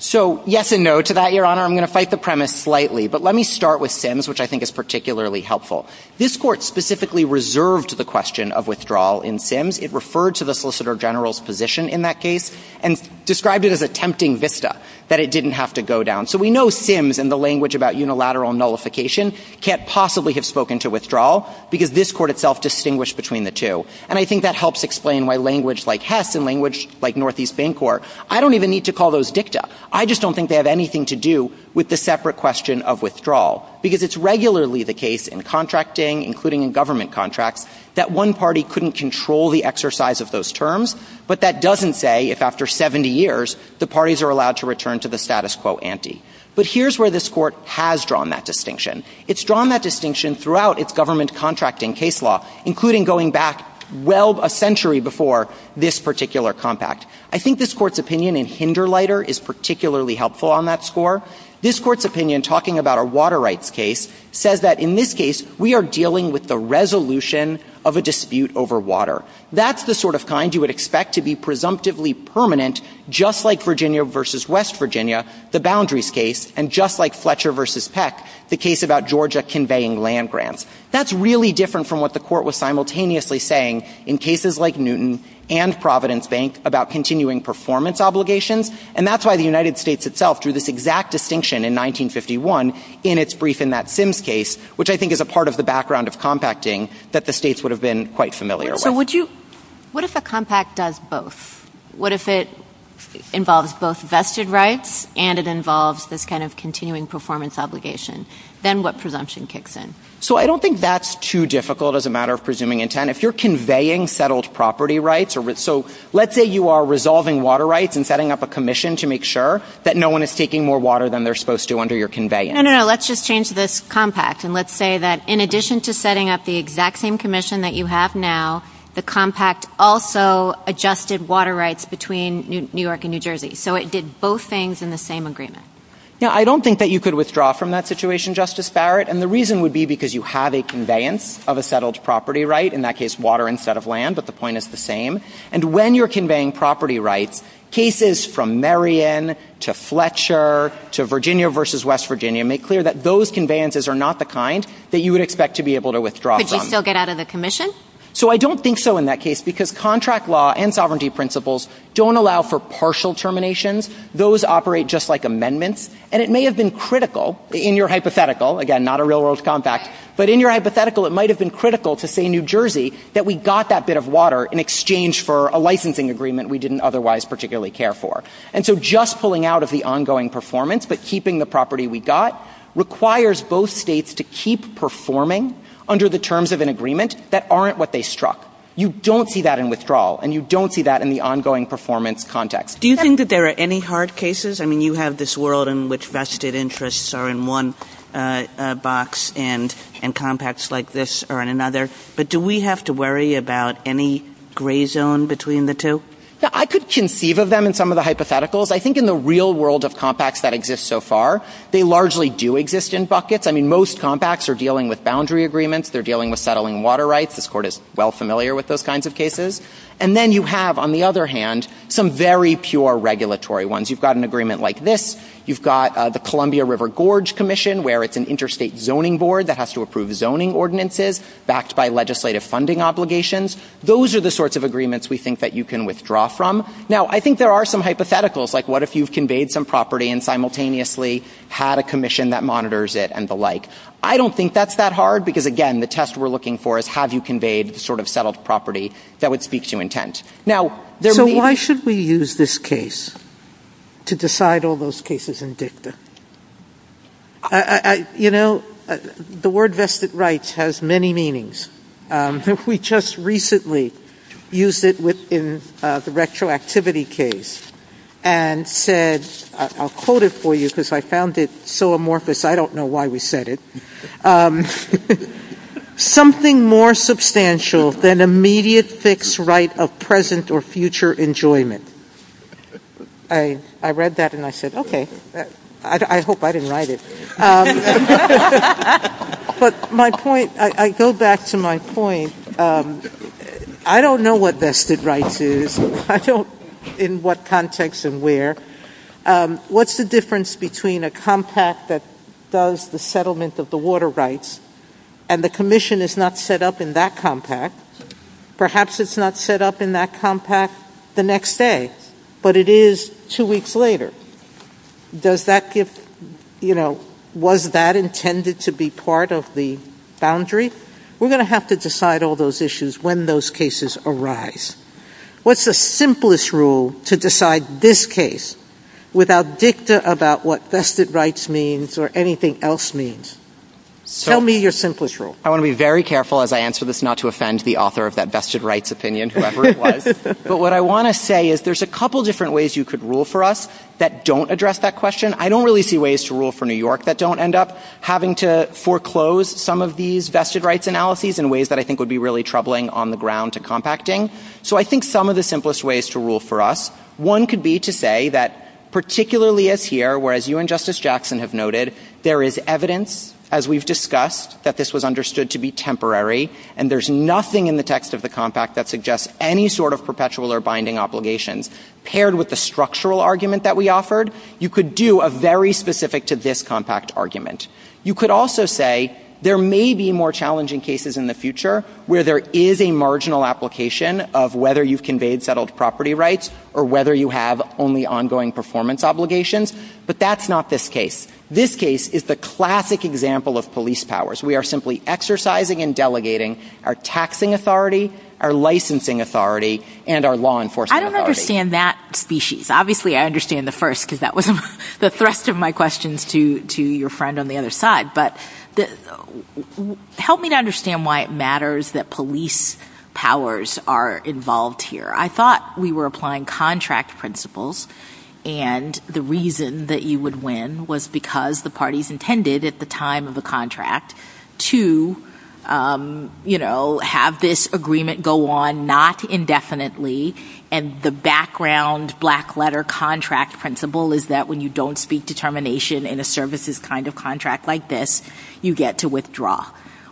So yes and no to that, Your Honor. I'm going to fight the premise slightly. But let me start with Sims, which I think is particularly helpful. This court specifically reserved the question of withdrawal in Sims. It referred to the solicitor general's position in that case and described it as attempting VISTA, that it didn't have to go down. So we know Sims and the language about unilateral nullification can't possibly have spoken to withdrawal because this court itself distinguished between the two. And I think that helps explain why language like HES and language like Northeast Bank Court, I don't even need to call those dicta. I just don't think they have anything to do with the separate question of withdrawal because it's regularly the case in contracting, including in government contracts, that one party couldn't control the exercise of those terms. But that doesn't say if after 70 years, the parties are allowed to return to the status quo ante. But here's where this court has drawn that distinction. It's drawn that distinction throughout its government contracting case law, including going back well a century before this particular compact. I think this court's opinion in Hinderlieter is particularly helpful on that score. This court's opinion, talking about a water rights case, says that in this case, we are dealing with the resolution of a dispute over water. That's the sort of kind you would expect to be presumptively permanent, just like Virginia versus West Virginia, the boundaries case, and just like Fletcher versus Peck, the case about Georgia conveying land grants. That's really different from what the court was simultaneously saying in cases like the continuing performance obligations. And that's why the United States itself drew this exact distinction in 1951 in its brief in that Sims case, which I think is a part of the background of compacting that the states would have been quite familiar with. So would you. What if a compact does both? What if it involves both vested rights and it involves this kind of continuing performance obligation? Then what presumption kicks in? So I don't think that's too difficult as a matter of presuming intent. And if you're conveying settled property rights or so, let's say you are resolving water rights and setting up a commission to make sure that no one is taking more water than they're supposed to under your conveyance. No, no, no. Let's just change this compact. And let's say that in addition to setting up the exact same commission that you have now, the compact also adjusted water rights between New York and New Jersey. So it did both things in the same agreement. Yeah, I don't think that you could withdraw from that situation, Justice Barrett. And the reason would be because you have a conveyance of a settled property right. In that case, water instead of land. But the point is the same. And when you're conveying property rights, cases from Marion to Fletcher to Virginia versus West Virginia make clear that those conveyances are not the kind that you would expect to be able to withdraw from. Could you still get out of the commission? So I don't think so in that case, because contract law and sovereignty principles don't allow for partial terminations. Those operate just like amendments. And it may have been critical in your hypothetical. Again, not a real world compact, but in your hypothetical, it might have been critical to say New Jersey that we got that bit of water in exchange for a licensing agreement we didn't otherwise particularly care for. And so just pulling out of the ongoing performance, but keeping the property we got requires both states to keep performing under the terms of an agreement that aren't what they struck. You don't see that in withdrawal and you don't see that in the ongoing performance context. Do you think that there are any hard cases? I mean, you have this world in which vested interests are in one box and and compacts like this are in another. But do we have to worry about any gray zone between the two? I could conceive of them in some of the hypotheticals. I think in the real world of compacts that exist so far, they largely do exist in buckets. I mean, most compacts are dealing with boundary agreements. They're dealing with settling water rights. This court is well familiar with those kinds of cases. And then you have, on the other hand, some very pure regulatory ones. You've got an agreement like this. You've got the Columbia River Gorge Commission, where it's an interstate zoning board that has to approve zoning ordinances backed by legislative funding obligations. Those are the sorts of agreements we think that you can withdraw from. Now, I think there are some hypotheticals, like what if you've conveyed some property and simultaneously had a commission that monitors it and the like? I don't think that's that hard, because, again, the test we're looking for is have you conveyed sort of settled property that would speak to intent. Now, why should we use this case to decide all those cases? You know, the word vested rights has many meanings. We just recently used it within the retroactivity case and said, I'll quote it for you because I found it so amorphous, I don't know why we said it. Something more substantial than immediate fixed right of present or future enjoyment. I read that and I said, okay. I hope I didn't write it. But my point, I go back to my point. I don't know what vested rights is, I don't know in what context and where. What's the difference between a compact that does the settlement of the water rights and the commission is not set up in that compact? Perhaps it's not set up in that compact the next day, but it is two weeks later. Does that give, you know, was that intended to be part of the boundary? We're going to have to decide all those issues when those cases arise. What's the simplest rule to decide this case without dicta about what vested rights means or anything else means? Tell me your simplest rule. I want to be very careful as I answer this, not to offend the author of that vested rights opinion, whoever it was. But what I want to say is there's a couple of different ways you could rule for us that don't address that question. I don't really see ways to rule for New York that don't end up having to foreclose some of these vested rights analyses in ways that I think would be really troubling on the ground to compacting. So I think some of the simplest ways to rule for us, one could be to say that particularly as here, whereas you and Justice Jackson have noted, there is evidence, as we've discussed, that this was understood to be temporary and there's nothing in the text of the compact that suggests any sort of perpetual or binding obligations paired with the structural argument that we offered. You could do a very specific to this compact argument. You could also say there may be more challenging cases in the future where there is a marginal application of whether you've conveyed settled property rights or whether you have only ongoing performance obligations, but that's not this case. This case is the classic example of police power. We are simply exercising and delegating our taxing authority, our licensing authority, and our law enforcement authority. I don't understand that species. Obviously, I understand the first because that was the thrust of my questions to your friend on the other side, but help me to understand why it matters that police powers are involved here. I thought we were applying contract principles and the reason that you would win was because the parties intended at the time of the contract to, you know, have this agreement go on, not indefinitely, and the background black letter contract principle is that when you don't speak determination in a services kind of contract like this, you get to withdraw.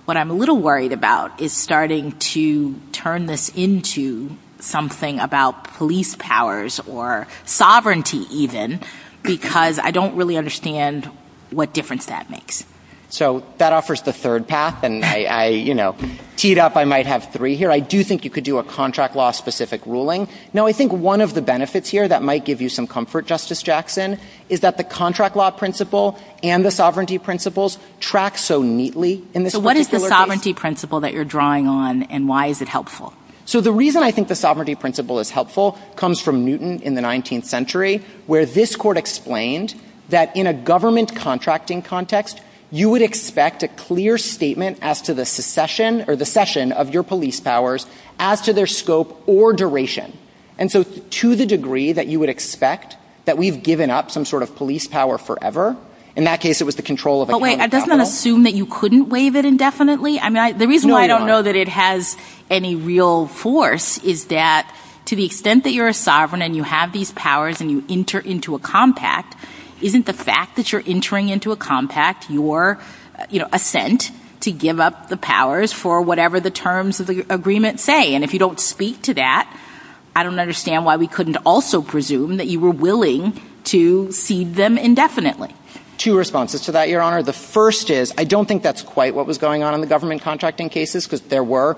What I'm a little worried about is starting to turn this into something about police powers or sovereignty even because I don't really understand what difference that makes. So, that offers the third path and I, you know, teed up I might have three here. I do think you could do a contract law specific ruling. Now, I think one of the benefits here that might give you some comfort, Justice Jackson, is that the contract law principle and the sovereignty principles track so neatly in this. So, what is the sovereignty principle that you're drawing on and why is it helpful? So, the reason I think the sovereignty principle is helpful comes from Newton in the 19th century where this court explained that in a government contracting context, you would expect a clear statement as to the secession or the session of your police powers as to their scope or duration. And so, to the degree that you would expect that we've given up some sort of police power forever, in that case it was the control of the government. Wait, does that assume that you couldn't waive it indefinitely? I mean, the reason why I don't know that it has any real force is that to the extent that you're a sovereign and you have these powers and you enter into a compact, isn't the fact that you're entering into a compact your, you know, assent to give up the powers for whatever the terms of the agreement say? And if you don't speak to that, I don't understand why we couldn't also presume that you were willing to cede them indefinitely. Two responses to that, Your Honor. The first is, I don't think that's quite what was going on in the government contracting cases because there were,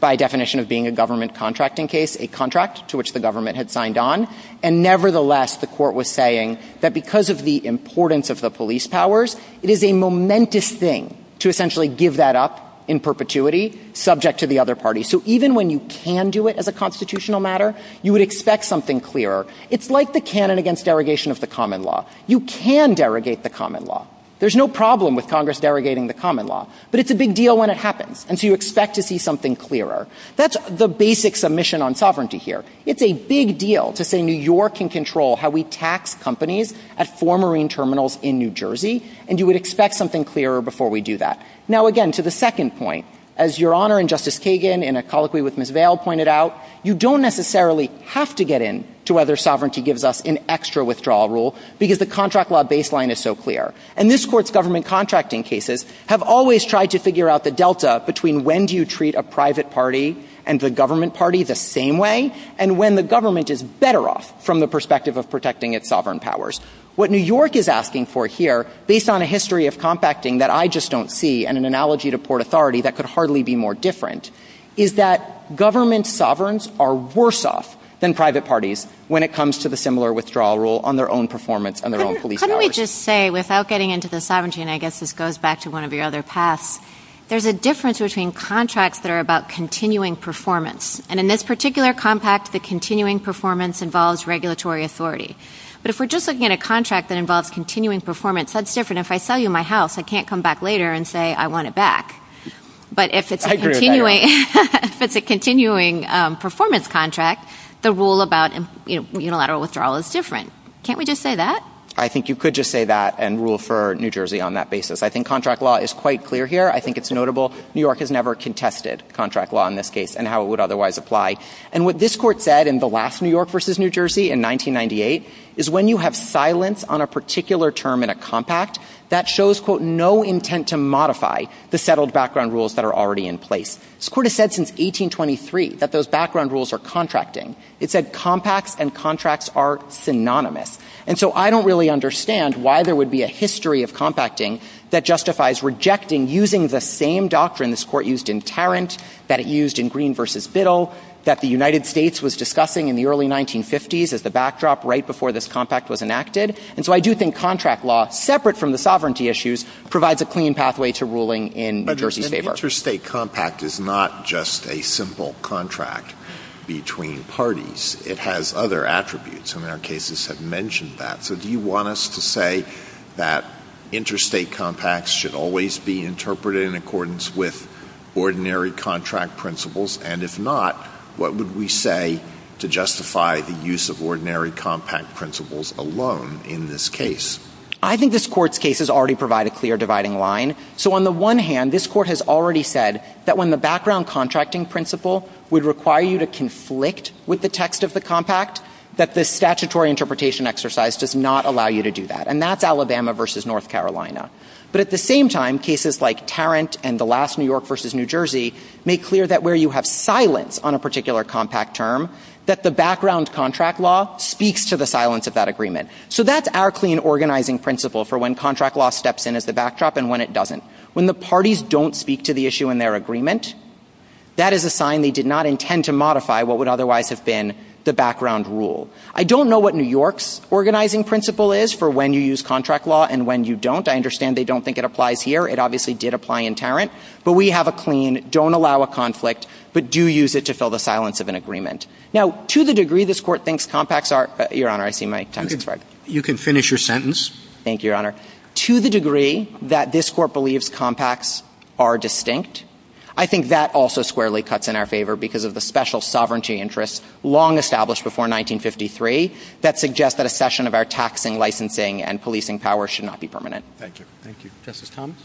by definition of being a government contracting case, a contract to which the government had signed on. And nevertheless, the court was saying that because of the importance of the police powers, it is a momentous thing to essentially give that up in perpetuity subject to the other party. So, even when you can do it as a constitutional matter, you would expect something clearer. It's like the canon against derogation of the common law. You can derogate the common law. There's no problem with Congress derogating the common law, but it's a big deal when it happens. And so, you expect to see something clearer. That's the basic submission on sovereignty here. It's a big deal to say New York can control how we tax companies at four marine terminals in New Jersey, and you would expect something clearer before we do that. Now, again, to the second point, as Your Honor and Justice Kagan in a colloquy with Ms. Vail pointed out, you don't necessarily have to get in to whether sovereignty gives us an extra withdrawal rule because the contract law baseline is so clear. And this court's government contracting cases have always tried to figure out the delta between when do you treat a private party and the government party the same way and when the government is better off from the perspective of protecting its sovereign powers. What New York is asking for here, based on a history of compacting that I just don't see and an analogy to port authority that could hardly be more different, is that government sovereigns are worse off than private parties when it comes to the similar withdrawal rule on their own performance and their own police powers. How do we just say, without getting into the sovereignty, and I guess this goes back to one of your other pasts, there's a difference between contracts that are about continuing performance, and in this particular compact, the continuing performance involves regulatory authority. But if we're just looking at a contract that involves continuing performance, that's different. If I sell you my house, I can't come back later and say I want it back. But if it's a continuing performance contract, the rule about unilateral withdrawal is different. Can't we just say that? I think you could just say that and rule for New Jersey on that basis. I think contract law is quite clear here. I think it's notable. New York has never contested contract law in this case and how it would otherwise apply. And what this court said in the last New York versus New Jersey in 1998 is when you have silence on a particular term in a compact, that shows, quote, no intent to modify the settled background rules that are already in place. This court has said since 1823 that those background rules are contracting. It said compacts and contracts are synonymous. And so I don't really understand why there would be a history of compacting that justifies rejecting using the same doctrine this court used in Tarrant, that it used in Green versus Biddle, that the United States was discussing in the early 1950s as the backdrop right before this compact was enacted. And so I do think contract law, separate from the sovereignty issues, provides a clean pathway to ruling in New Jersey's favor. Interstate compact is not just a simple contract between parties. It has other attributes. Some of our cases have mentioned that. So do you want us to say that interstate compacts should always be interpreted in accordance with ordinary contract principles? And if not, what would we say to justify the use of ordinary compact principles alone in this case? I think this court's case has already provided a clear dividing line. So on the one hand, this court has already said that when the background contracting principle would require you to conflict with the text of the compact, that the statutory interpretation exercise does not allow you to do that. And that's Alabama versus North Carolina. But at the same time, cases like Tarrant and the last New York versus New Jersey make clear that where you have silence on a particular compact term, that the background contract law speaks to the silence of that agreement. So that's our clean organizing principle for when contract law steps in as the backdrop and when it doesn't. When the parties don't speak to the issue in their agreement, that is a sign they did not intend to modify what would otherwise have been the background rule. I don't know what New York's organizing principle is for when you use contract law and when you don't. I understand they don't think it applies here. It obviously did apply in Tarrant. But we have a clean, don't allow a conflict, but do use it to fill the silence of an agreement. Now, to the degree this court thinks compacts are, Your Honor, I see my time is up. You can finish your sentence. Thank you, Your Honor. To the degree that this court believes compacts are distinct, I think that also squarely cuts in our favor because of the special sovereignty interest long established before 1953 that suggests that a session of our taxing, licensing, and policing power should not be permanent. Thank you. Thank you. Justice Thomas?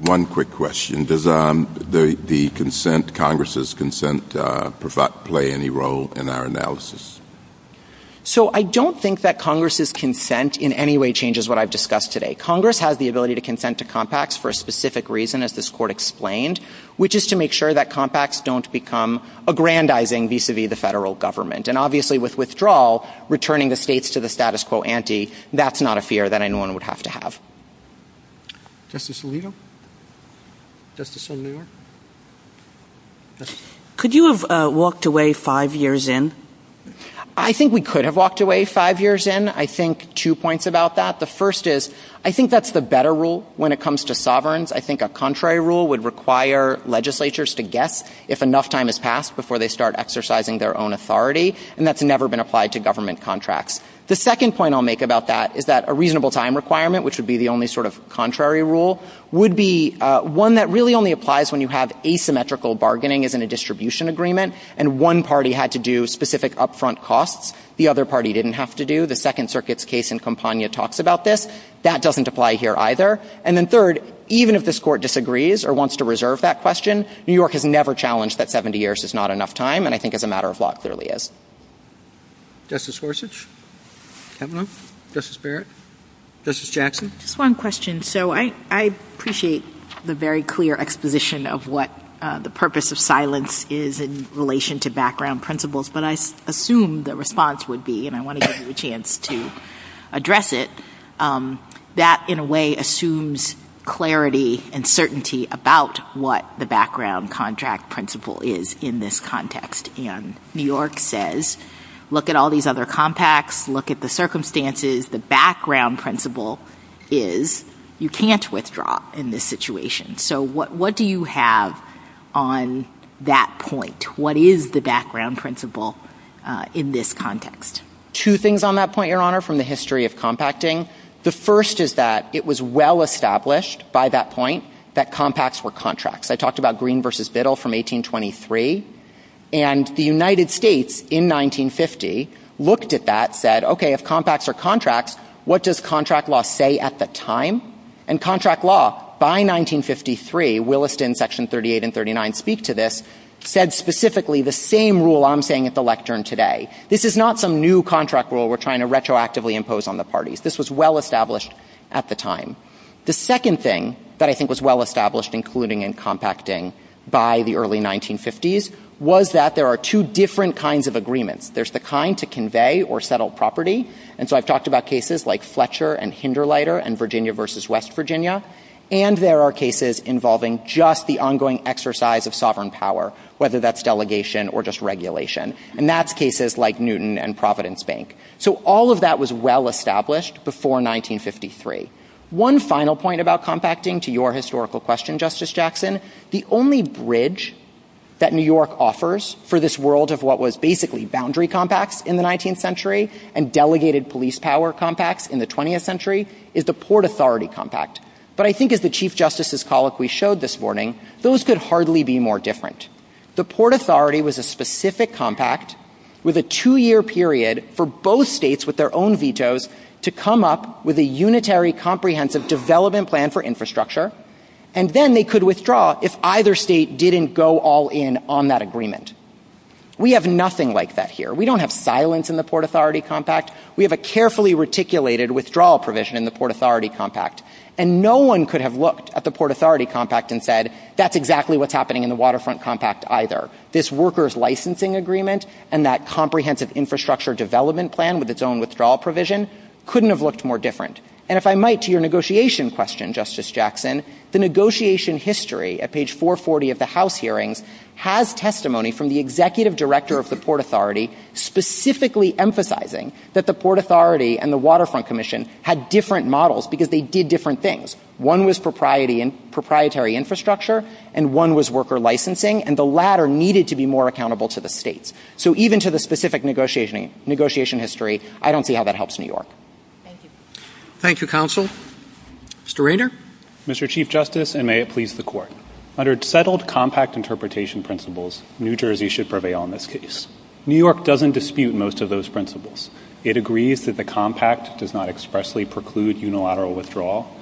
One quick question. Does the consent, Congress' consent, play any role in our analysis? So I don't think that Congress' consent in any way changes what I've discussed today. Congress has the ability to consent to compacts for a specific reason, as this court explained, which is to make sure that compacts don't become aggrandizing vis-a-vis the federal government. And obviously, with withdrawal, returning the states to the status quo ante, that's not a fear that anyone would have to have. Justice Alito? Justice Alito? Could you have walked away five years in? I think we could have walked away five years in. I think two points about that. The first is, I think that's the better rule when it comes to sovereigns. I think a contrary rule would require legislatures to guess if enough time has passed before they start exercising their own authority, and that's never been applied to government contracts. The second point I'll make about that is that a reasonable time requirement, which would be the only sort of contrary rule, would be one that really only applies when you have asymmetrical bargaining as in a distribution agreement, and one party had to do specific upfront costs the other party didn't have to do. The Second Circuit's case in Campagna talks about this. That doesn't apply here either. And then third, even if this court disagrees or wants to reserve that question, New York has never challenged that 70 years is not enough time, and I think it's a matter of what it really is. Justice Gorsuch? Kempner? Justice Barrett? Justice Jackson? One question. So I appreciate the very clear exposition of what the purpose of silence is in relation to background principles, but I assume the response would be, and I want to give you a chance to address it, that in a way assumes clarity and certainty about what the background contract principle is in this context. And New York says, look at all these other compacts, look at the circumstances. The background principle is you can't withdraw in this situation. So what do you have on that point? What is the background principle in this context? Two things on that point, Your Honor, from the history of compacting. The first is that it was well established by that point that compacts were contracts. I talked about Green v. Biddle from 1823, and the United States in 1950 looked at that, said, okay, if compacts are contracts, what does contract law say at the time? And contract law by 1953, Williston Section 38 and 39 speak to this, said specifically the same rule I'm saying at the lectern today. This is not some new contract rule we're trying to retroactively impose on the parties. This was well established at the time. The second thing that I think was well established, including in compacting by the early 1950s, was that there are two different kinds of agreements. There's the kind to convey or settle property, and so I've talked about cases like Fletcher and Hinderleiter and Virginia v. West Virginia, and there are cases involving just the ongoing exercise of sovereign power, whether that's delegation or just regulation. And that's cases like Newton and Providence Bank. So all of that was well established before 1953. One final point about compacting to your historical question, Justice Jackson, the only bridge that New York offers for this world of what was basically boundary compacts in the 19th century and delegated police power compacts in the 20th century is the Port Authority compact. But I think as the Chief Justice's colloquy showed this morning, those could hardly be more different. The Port Authority was a specific compact with a two-year period for both states with their own vetoes to come up with a unitary comprehensive development plan for infrastructure, and then they could withdraw if either state didn't go all in on that agreement. We have nothing like that here. We don't have silence in the Port Authority compact. We have a carefully reticulated withdrawal provision in the Port Authority compact. And no one could have looked at the Port Authority compact and said, that's exactly what's happening in the Waterfront compact either. This workers licensing agreement and that comprehensive infrastructure development plan with its own withdrawal provision couldn't have looked more different. And if I might to your negotiation question, Justice Jackson, the negotiation history at page 440 of the House hearings has testimony from the Executive Director of the Port Authority specifically emphasizing that the Port Authority and the Waterfront Commission had different models because they did different things. One was proprietary infrastructure, and one was worker licensing, and the latter needed to be more accountable to the states. So even to the specific negotiation history, I don't see how that helps New York. Thank you. Thank you, Counsel. Mr. Rayner? Mr. Chief Justice, and may it please the Court, under settled compact interpretation principles, New Jersey should prevail in this case. New York doesn't dispute most of those principles. It agrees that the compact does not expressly preclude unilateral withdrawal.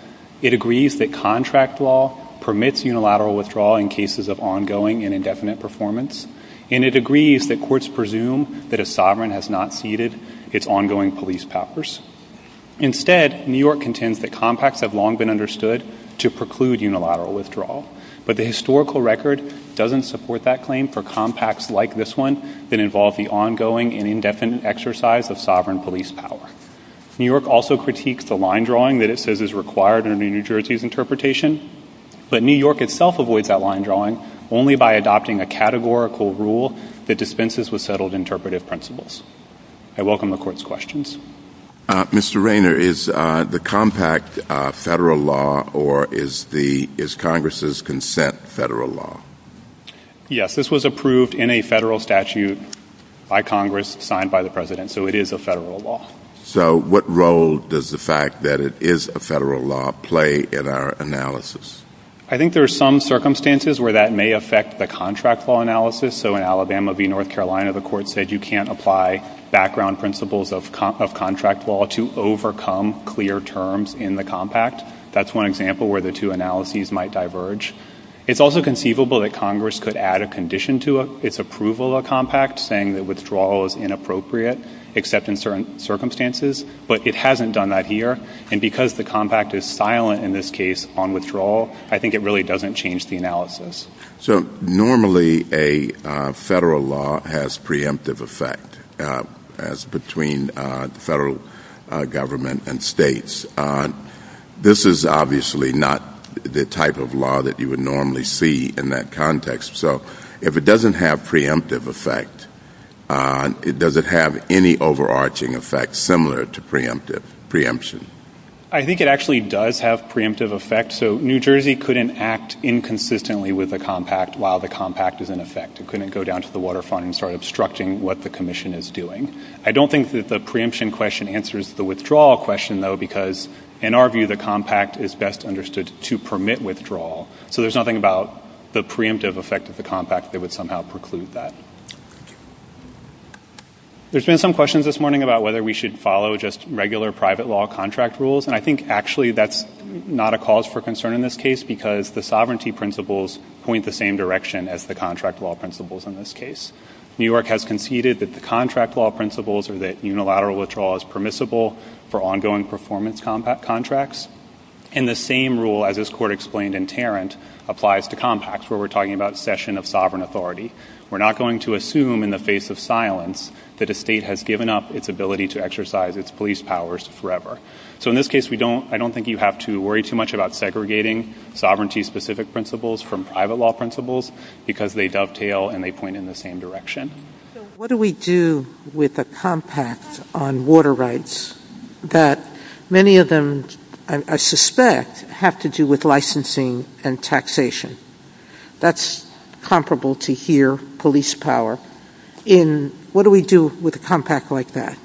It agrees that contract law permits unilateral withdrawal in cases of ongoing and indefinite performance, and it agrees that courts presume that a sovereign has not ceded its ongoing police powers. Instead, New York contends that compacts have long been understood to preclude unilateral withdrawal, but the historical record doesn't support that claim for compacts like this one that involve the ongoing and indefinite exercise of sovereign police power. New York also critiques the line drawing that it says is required under New Jersey's interpretation, but New York itself avoids that line drawing only by adopting a categorical rule that dispenses with settled interpretive principles. I welcome the Court's questions. Mr. Rayner, is the compact federal law, or is Congress's consent federal law? Yes, this was approved in a federal statute by Congress, signed by the President, so it is a federal law. So what role does the fact that it is a federal law play in our analysis? I think there are some circumstances where that may affect the contract law analysis. So in Alabama v. North Carolina, the Court said you can't apply background principles of contract law to overcome clear terms in the compact. That's one example where the two analyses might diverge. It's also conceivable that Congress could add a condition to its approval of the compact saying that withdrawal is inappropriate, except in certain circumstances. But it hasn't done that here. And because the compact is silent in this case on withdrawal, I think it really doesn't change the analysis. So normally a federal law has preemptive effect as between federal government and states. This is obviously not the type of law that you would normally see in that context. So if it doesn't have preemptive effect, does it have any overarching effect similar to preemption? I think it actually does have preemptive effect. So New Jersey couldn't act inconsistently with the compact while the compact is in effect. It couldn't go down to the waterfront and start obstructing what the commission is doing. I don't think that the preemption question answers the withdrawal question, though, because in our view the compact is best understood to permit withdrawal. So there's nothing about the preemptive effect of the compact that would somehow preclude that. There's been some questions this morning about whether we should follow just regular private law contract rules. And I think actually that's not a cause for concern in this case because the sovereignty principles point the same direction as the contract law principles in this case. New York has conceded that the contract law principles or that unilateral withdrawal is permissible for ongoing performance contracts. And the same rule as this court explained in Tarrant applies to compacts where we're talking about cession of sovereign authority. We're not going to assume in the face of silence that a state has given up its ability to exercise its police powers forever. So in this case I don't think you have to worry too much about segregating sovereignty-specific principles from private law principles because they dovetail and they point in the same direction. So what do we do with a compact on water rights that many of them I suspect have to do with licensing and taxation? That's comparable to here, police power. And what do we do with a compact like that?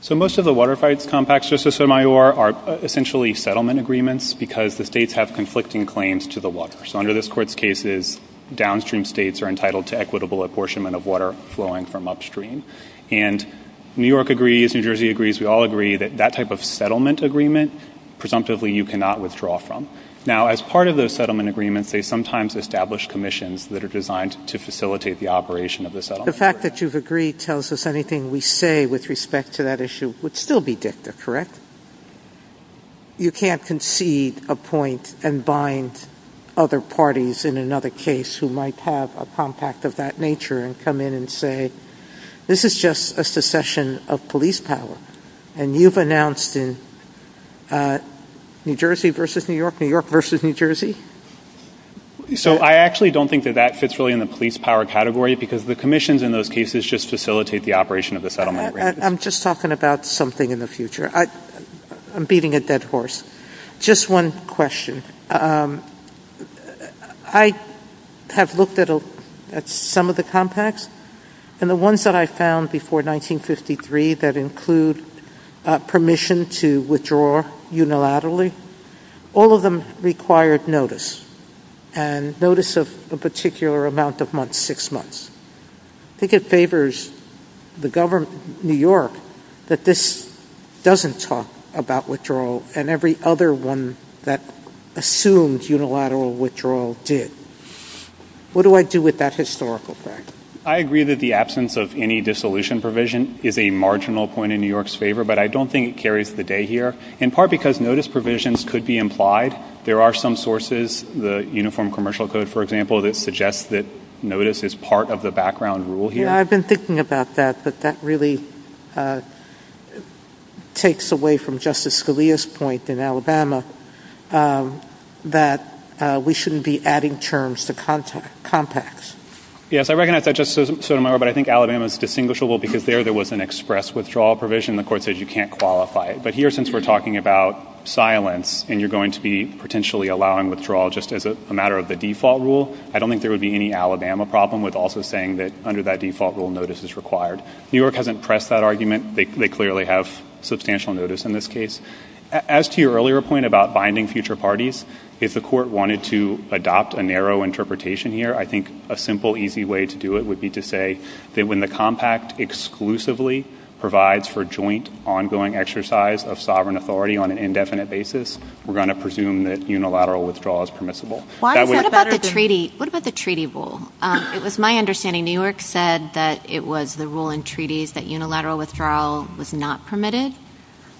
So most of the water rights compacts, Justice Sotomayor, are essentially settlement agreements because the states have conflicting claims to the water. So under this court's cases, downstream states are entitled to equitable apportionment of water flowing from upstream. And New York agrees, New Jersey agrees, we all agree that that type of settlement agreement presumptively you cannot withdraw from. Now as part of those settlement agreements, they sometimes establish commissions that are designed to facilitate the operation of the settlement. The fact that you've agreed tells us anything we say with respect to that issue would still be dicta, correct? You can't concede a point and bind other parties in another case who might have a compact of that nature and come in and say, this is just a succession of police power and you've announced in New Jersey versus New York, New York versus New Jersey. So I actually don't think that that fits really in the police power category because the commissions in those cases just facilitate the operation of the settlement. I'm just talking about something in the future. I'm beating a dead horse. Just one question. I have looked at some of the compacts and the ones that I found before 1953 that include permission to withdraw unilaterally, all of them required notice and notice of a particular amount of months, six months. I think it favors the government, New York, that this doesn't talk about withdrawal and every other one that assumes unilateral withdrawal did. What do I do with that historical fact? I agree that the absence of any dissolution provision is a marginal point in New York's favor but I don't think it carries the day here in part because notice provisions could be implied. There are some sources, the Uniform Commercial Code for example, that suggests that notice is part of the background rule here. I've been thinking about that but that really takes away from Justice Scalia's point in Alabama that we shouldn't be adding terms to compacts. Yes, I recognize that, Justice Sotomayor, but I think Alabama is distinguishable because there there was an express withdrawal provision. The court says you can't qualify it. But here since we're talking about silence and you're going to be potentially allowing withdrawal just as a matter of the default rule, I don't think there would be any Alabama problem with also saying that under that default rule notice is required. New York hasn't pressed that argument. They clearly have substantial notice in this case. As to your earlier point about binding future parties, if the court wanted to adopt a narrow interpretation here, I think a simple easy way to do it would be to say that when the compact exclusively provides for joint ongoing exercise of sovereign authority on an indefinite basis, we're going to presume that unilateral withdrawal is permissible. What about the treaty rule? It was my understanding New York said that it was the rule in treaties that unilateral withdrawal was not permitted.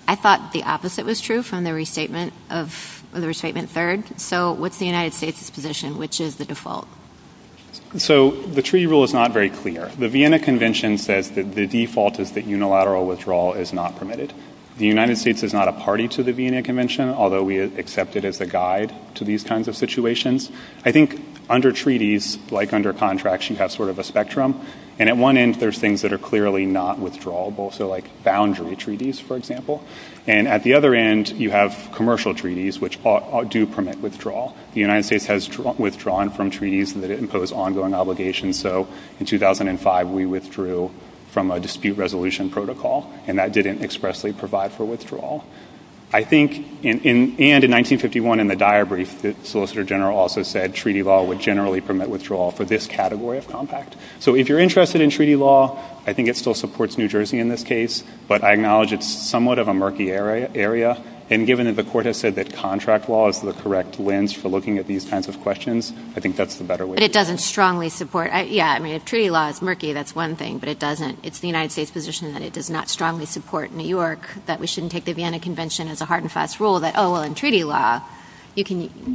I thought the opposite was true from the restatement of the restatement third. So what's the United States' position? Which is the default? So the treaty rule is not very clear. The Vienna Convention says that the default is that unilateral withdrawal is not permitted. The United States is not a party to the Vienna Convention, although we accept it as a guide to these kinds of situations. I think under treaties, like under contracts, you have sort of a spectrum. And at one end, there's things that are clearly not withdrawable, so like boundary treaties, for example. And at the other end, you have commercial treaties, which do permit withdrawal. The United States has withdrawn from treaties that impose ongoing obligations. So in 2005, we withdrew from a dispute resolution protocol, and that didn't expressly provide for withdrawal. I think, and in 1951, in the Dyer brief, the Solicitor General also said treaty law would generally permit withdrawal for this category of compact. So if you're interested in treaty law, I think it still supports New Jersey in this case, but I acknowledge it's somewhat of a murky area. And given that the court has said that contract law is the correct lens for looking at these kinds of questions, I think that's the better way. But it doesn't strongly support, yeah, I mean, if treaty law is murky, that's one thing, but it doesn't, it's the United States' position that it does not strongly support New York, that we shouldn't take the Vienna Convention as a hard and fast rule, that, oh, well, in treaty law, you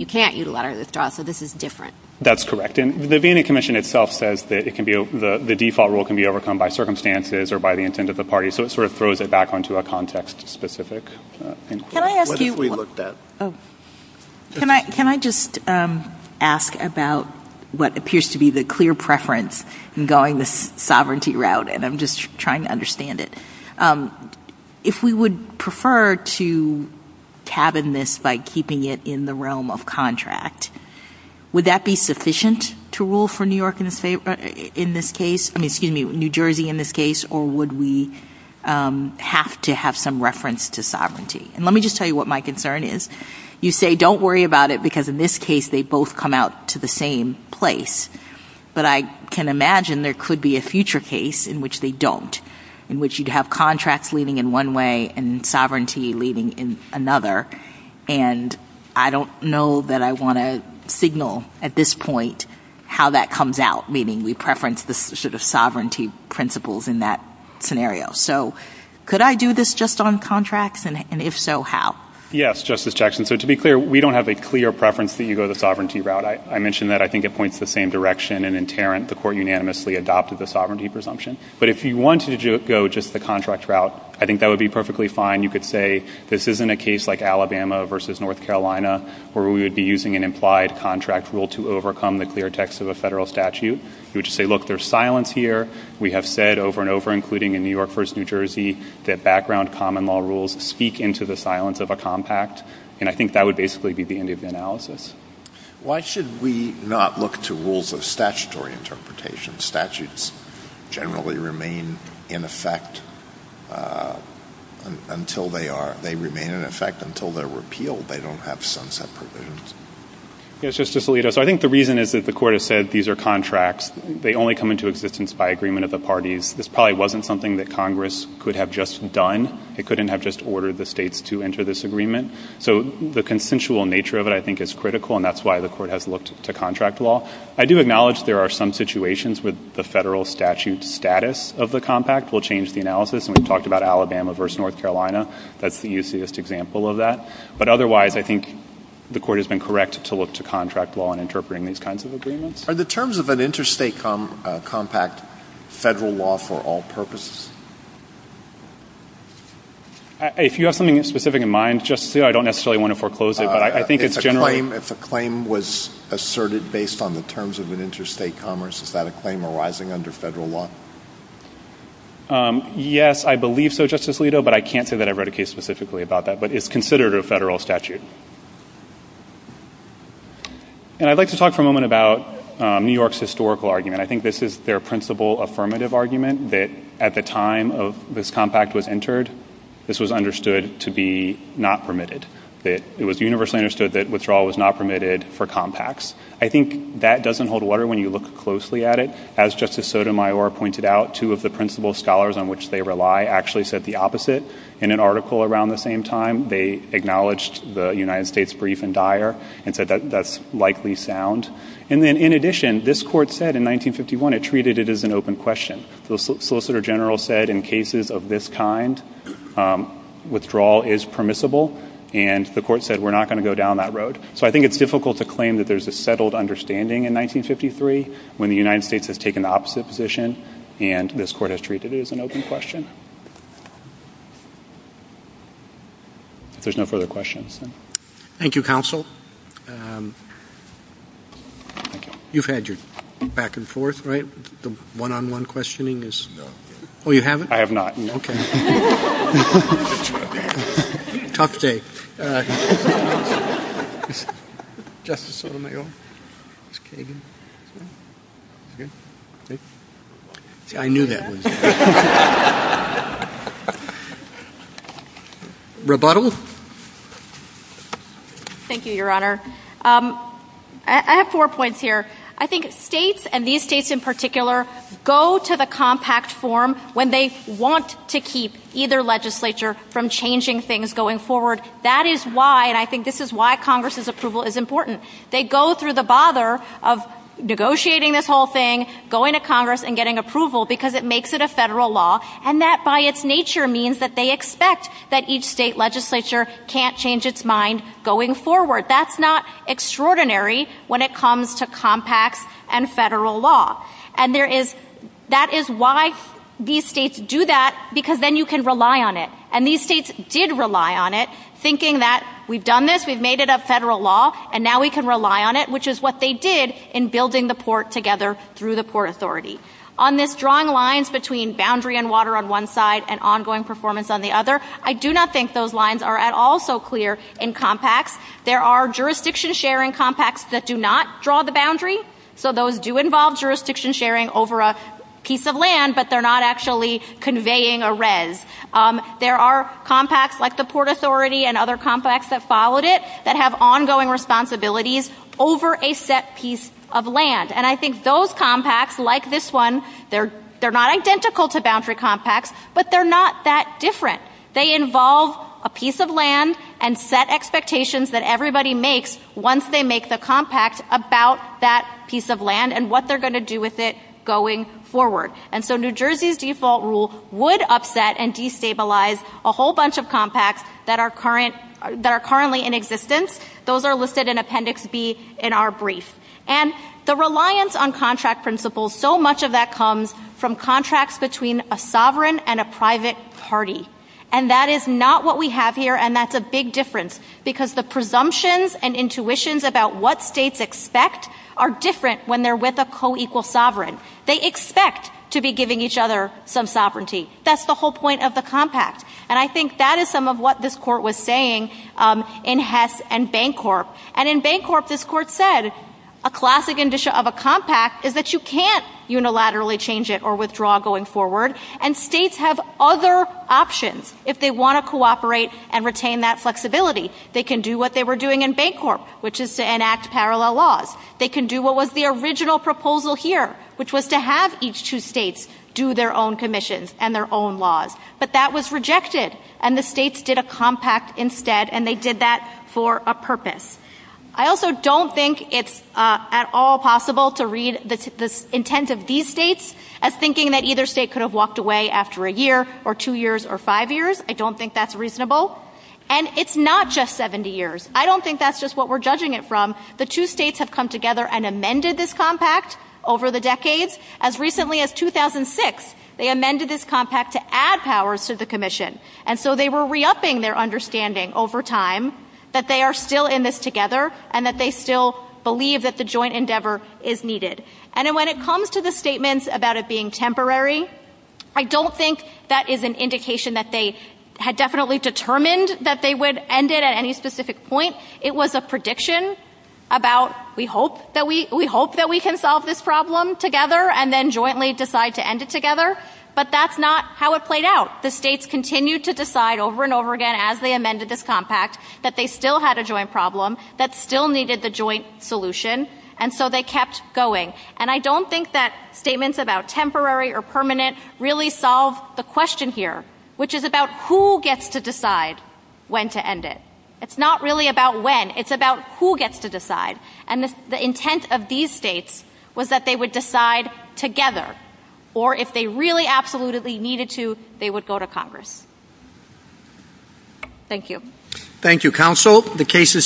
can't use a lot of withdrawals, so this is different. That's correct. And the Vienna Commission itself says that it can be, the default rule can be overcome by circumstances or by the intent of the party. So it sort of throws it back onto a context-specific inquiry. Can I ask you? What have we looked at? Can I just ask about what appears to be the clear preference in going the sovereignty route, and I'm just trying to understand it. If we would prefer to tab in this by keeping it in the realm of contract, would that be sufficient to rule for New York in this case, I mean, excuse me, New Jersey in this case, or would we have to have some reference to sovereignty? And let me just tell you what my concern is. You say, don't worry about it, because in this case, they both come out to the same place. But I can imagine there could be a future case in which they don't, in which you'd have contracts leading in one way and sovereignty leading in another. And I don't know that I want to signal at this point how that comes out, meaning we preference the sort of sovereignty principles in that scenario. So could I do this just on contracts, and if so, how? Yes, Justice Jackson. So to be clear, we don't have a clear preference that you go the sovereignty route. I mentioned that. I think it points the same direction, and in Tarrant, the court unanimously adopted the sovereignty presumption. But if you wanted to go just the contract route, I think that would be perfectly fine. You could say, this isn't a case like Alabama versus North Carolina where we would be using an implied contract rule to overcome the clear text of a federal statute. You would just say, look, there's silence here. We have said over and over, including in New York versus New Jersey, that background common law rules speak into the silence of a compact. And I think that would basically be the end of the analysis. Why should we not look to rules of statutory interpretation? Statutes generally remain in effect until they are, they remain in effect until they're repealed. They don't have sunset provisions. Yes, Justice Alito. So I think the reason is that the court has said these are contracts. They only come into existence by agreement of the parties. This probably wasn't something that Congress could have just done. It couldn't have just ordered the states to enter this agreement. So the consensual nature of it, I think, is critical and that's why the court has looked to contract law. I do acknowledge there are some situations with the federal statute status of the compact will change the analysis. And we've talked about Alabama versus North Carolina. That's the easiest example of that. But otherwise, I think the court has been correct to look to contract law in interpreting these kinds of agreements. Are the terms of an interstate compact federal law for all purposes? If you have something specific in mind, Justice Alito, I don't necessarily want to foreclose it, but I think it's generally. If a claim was asserted based on the terms of an interstate commerce, is that a claim arising under federal law? Yes, I believe so, Justice Alito, but I can't say that I wrote a case specifically about that, but it's considered a federal statute. And I'd like to talk for a moment about New York's historical argument. I think this is their principal affirmative argument that at the time of this compact was entered, this was understood to be not permitted. It was universally understood that withdrawal was not permitted for compacts. I think that doesn't hold water when you look closely at it. As Justice Sotomayor pointed out, two of the principal scholars on which they rely actually said the opposite. In an article around the same time, they acknowledged the United States brief and dire and said that's likely sound. And then in addition, this court said in 1951 it treated it as an open question. The Solicitor General said in cases of this kind, withdrawal is permissible and the court said we're not going to go down that road. So I think it's difficult to claim that there's a settled understanding in 1953 when the United States has taken the opposite position and this court has treated it as an open question. There's no further questions. Thank you, counsel. You've had your back and forth, right? The one-on-one questioning is? Well, you haven't? I have not. Okay. Tough day. Justice Sotomayor? Okay. I knew that. Rebuttal? Thank you, Your Honor. I have four points here. I think states and these states in particular go to the compact form when they want to keep either legislature from changing things going forward. That is why and I think this is why Congress's approval is important. They go through the bother of negotiating this whole thing, going to Congress and getting approval because it makes it a federal law and that by its nature means that they expect that each state legislature can't change its mind going forward. That's not extraordinary when it comes to compact and federal law. And there is, that is why these states do that because then you can rely on it. And these states did rely on it thinking that we've done this, we've made it a federal law and now we can rely on it, which is what they did in building the port together through the Port Authority. On this drawing lines between boundary and water on one side and ongoing performance on the other, I do not think those lines are at all so clear in compact. There are jurisdiction sharing compacts that do not draw the boundary. So those do involve jurisdiction sharing over a piece of land, but they're not actually conveying a res. There are compacts like the Port Authority and other compacts that followed it that have ongoing responsibilities over a set piece of land. And I think those compacts, like this one, they're not identical to boundary compacts, but they're not that different. They involve a piece of land and set expectations that everybody makes once they make the compact about that piece of land and what they're going to do with it going forward. And so New Jersey's default rule would upset and destabilize a whole bunch of compacts that are currently in existence. Those are listed in Appendix B in our brief. And the reliance on contract principles, so much of that comes from contracts between a sovereign and a private party. And that is not what we have here, and that's a big difference. Because the presumptions and intuitions about what states expect are different when they're with a co-equal sovereign. They expect to be giving each other some sovereignty. That's the whole point of the compact. And I think that is some of what this court was saying in Hess and Bancorp. And in Bancorp, this court said a classic condition of a compact is that you can't unilaterally change it or withdraw going forward. And states have other options if they want to cooperate and retain that flexibility. They can do what they were doing in Bancorp, which is to enact parallel laws. They can do what was the original proposal here, which was to have each two states do their own commissions and their own laws. But that was rejected, and the states did a compact instead, and they did that for a purpose. I also don't think it's at all possible to read the intent of these states as thinking that either state could have walked away after a year or two years or five years. I don't think that's reasonable. And it's not just 70 years. I don't think that's just what we're judging it from. The two states have come together and amended this compact over the decades. As recently as 2006, they amended this compact to add powers to the commission. And so they were re-upping their understanding over time that they are still in this together and that they still believe that the joint endeavor is needed. And when it comes to the statements about it being temporary, I don't think that is an indication that they had definitely determined that they would end it at any specific point. It was a prediction about we hope that we can solve this problem together and then jointly decide to end it together. But that's not how it played out. The states continued to decide over and over again as they amended this compact that they still had a joint problem that still needed the joint solution. And so they kept going. And I don't think that statements about temporary or permanent really solve the question here, which is about who gets to decide when to end it. It's not really about when. It's about who gets to decide. And the intent of these states was that they would decide together. Or if they really absolutely needed to, they would go to Congress. Thank you. Thank you, counsel. The case is submitted.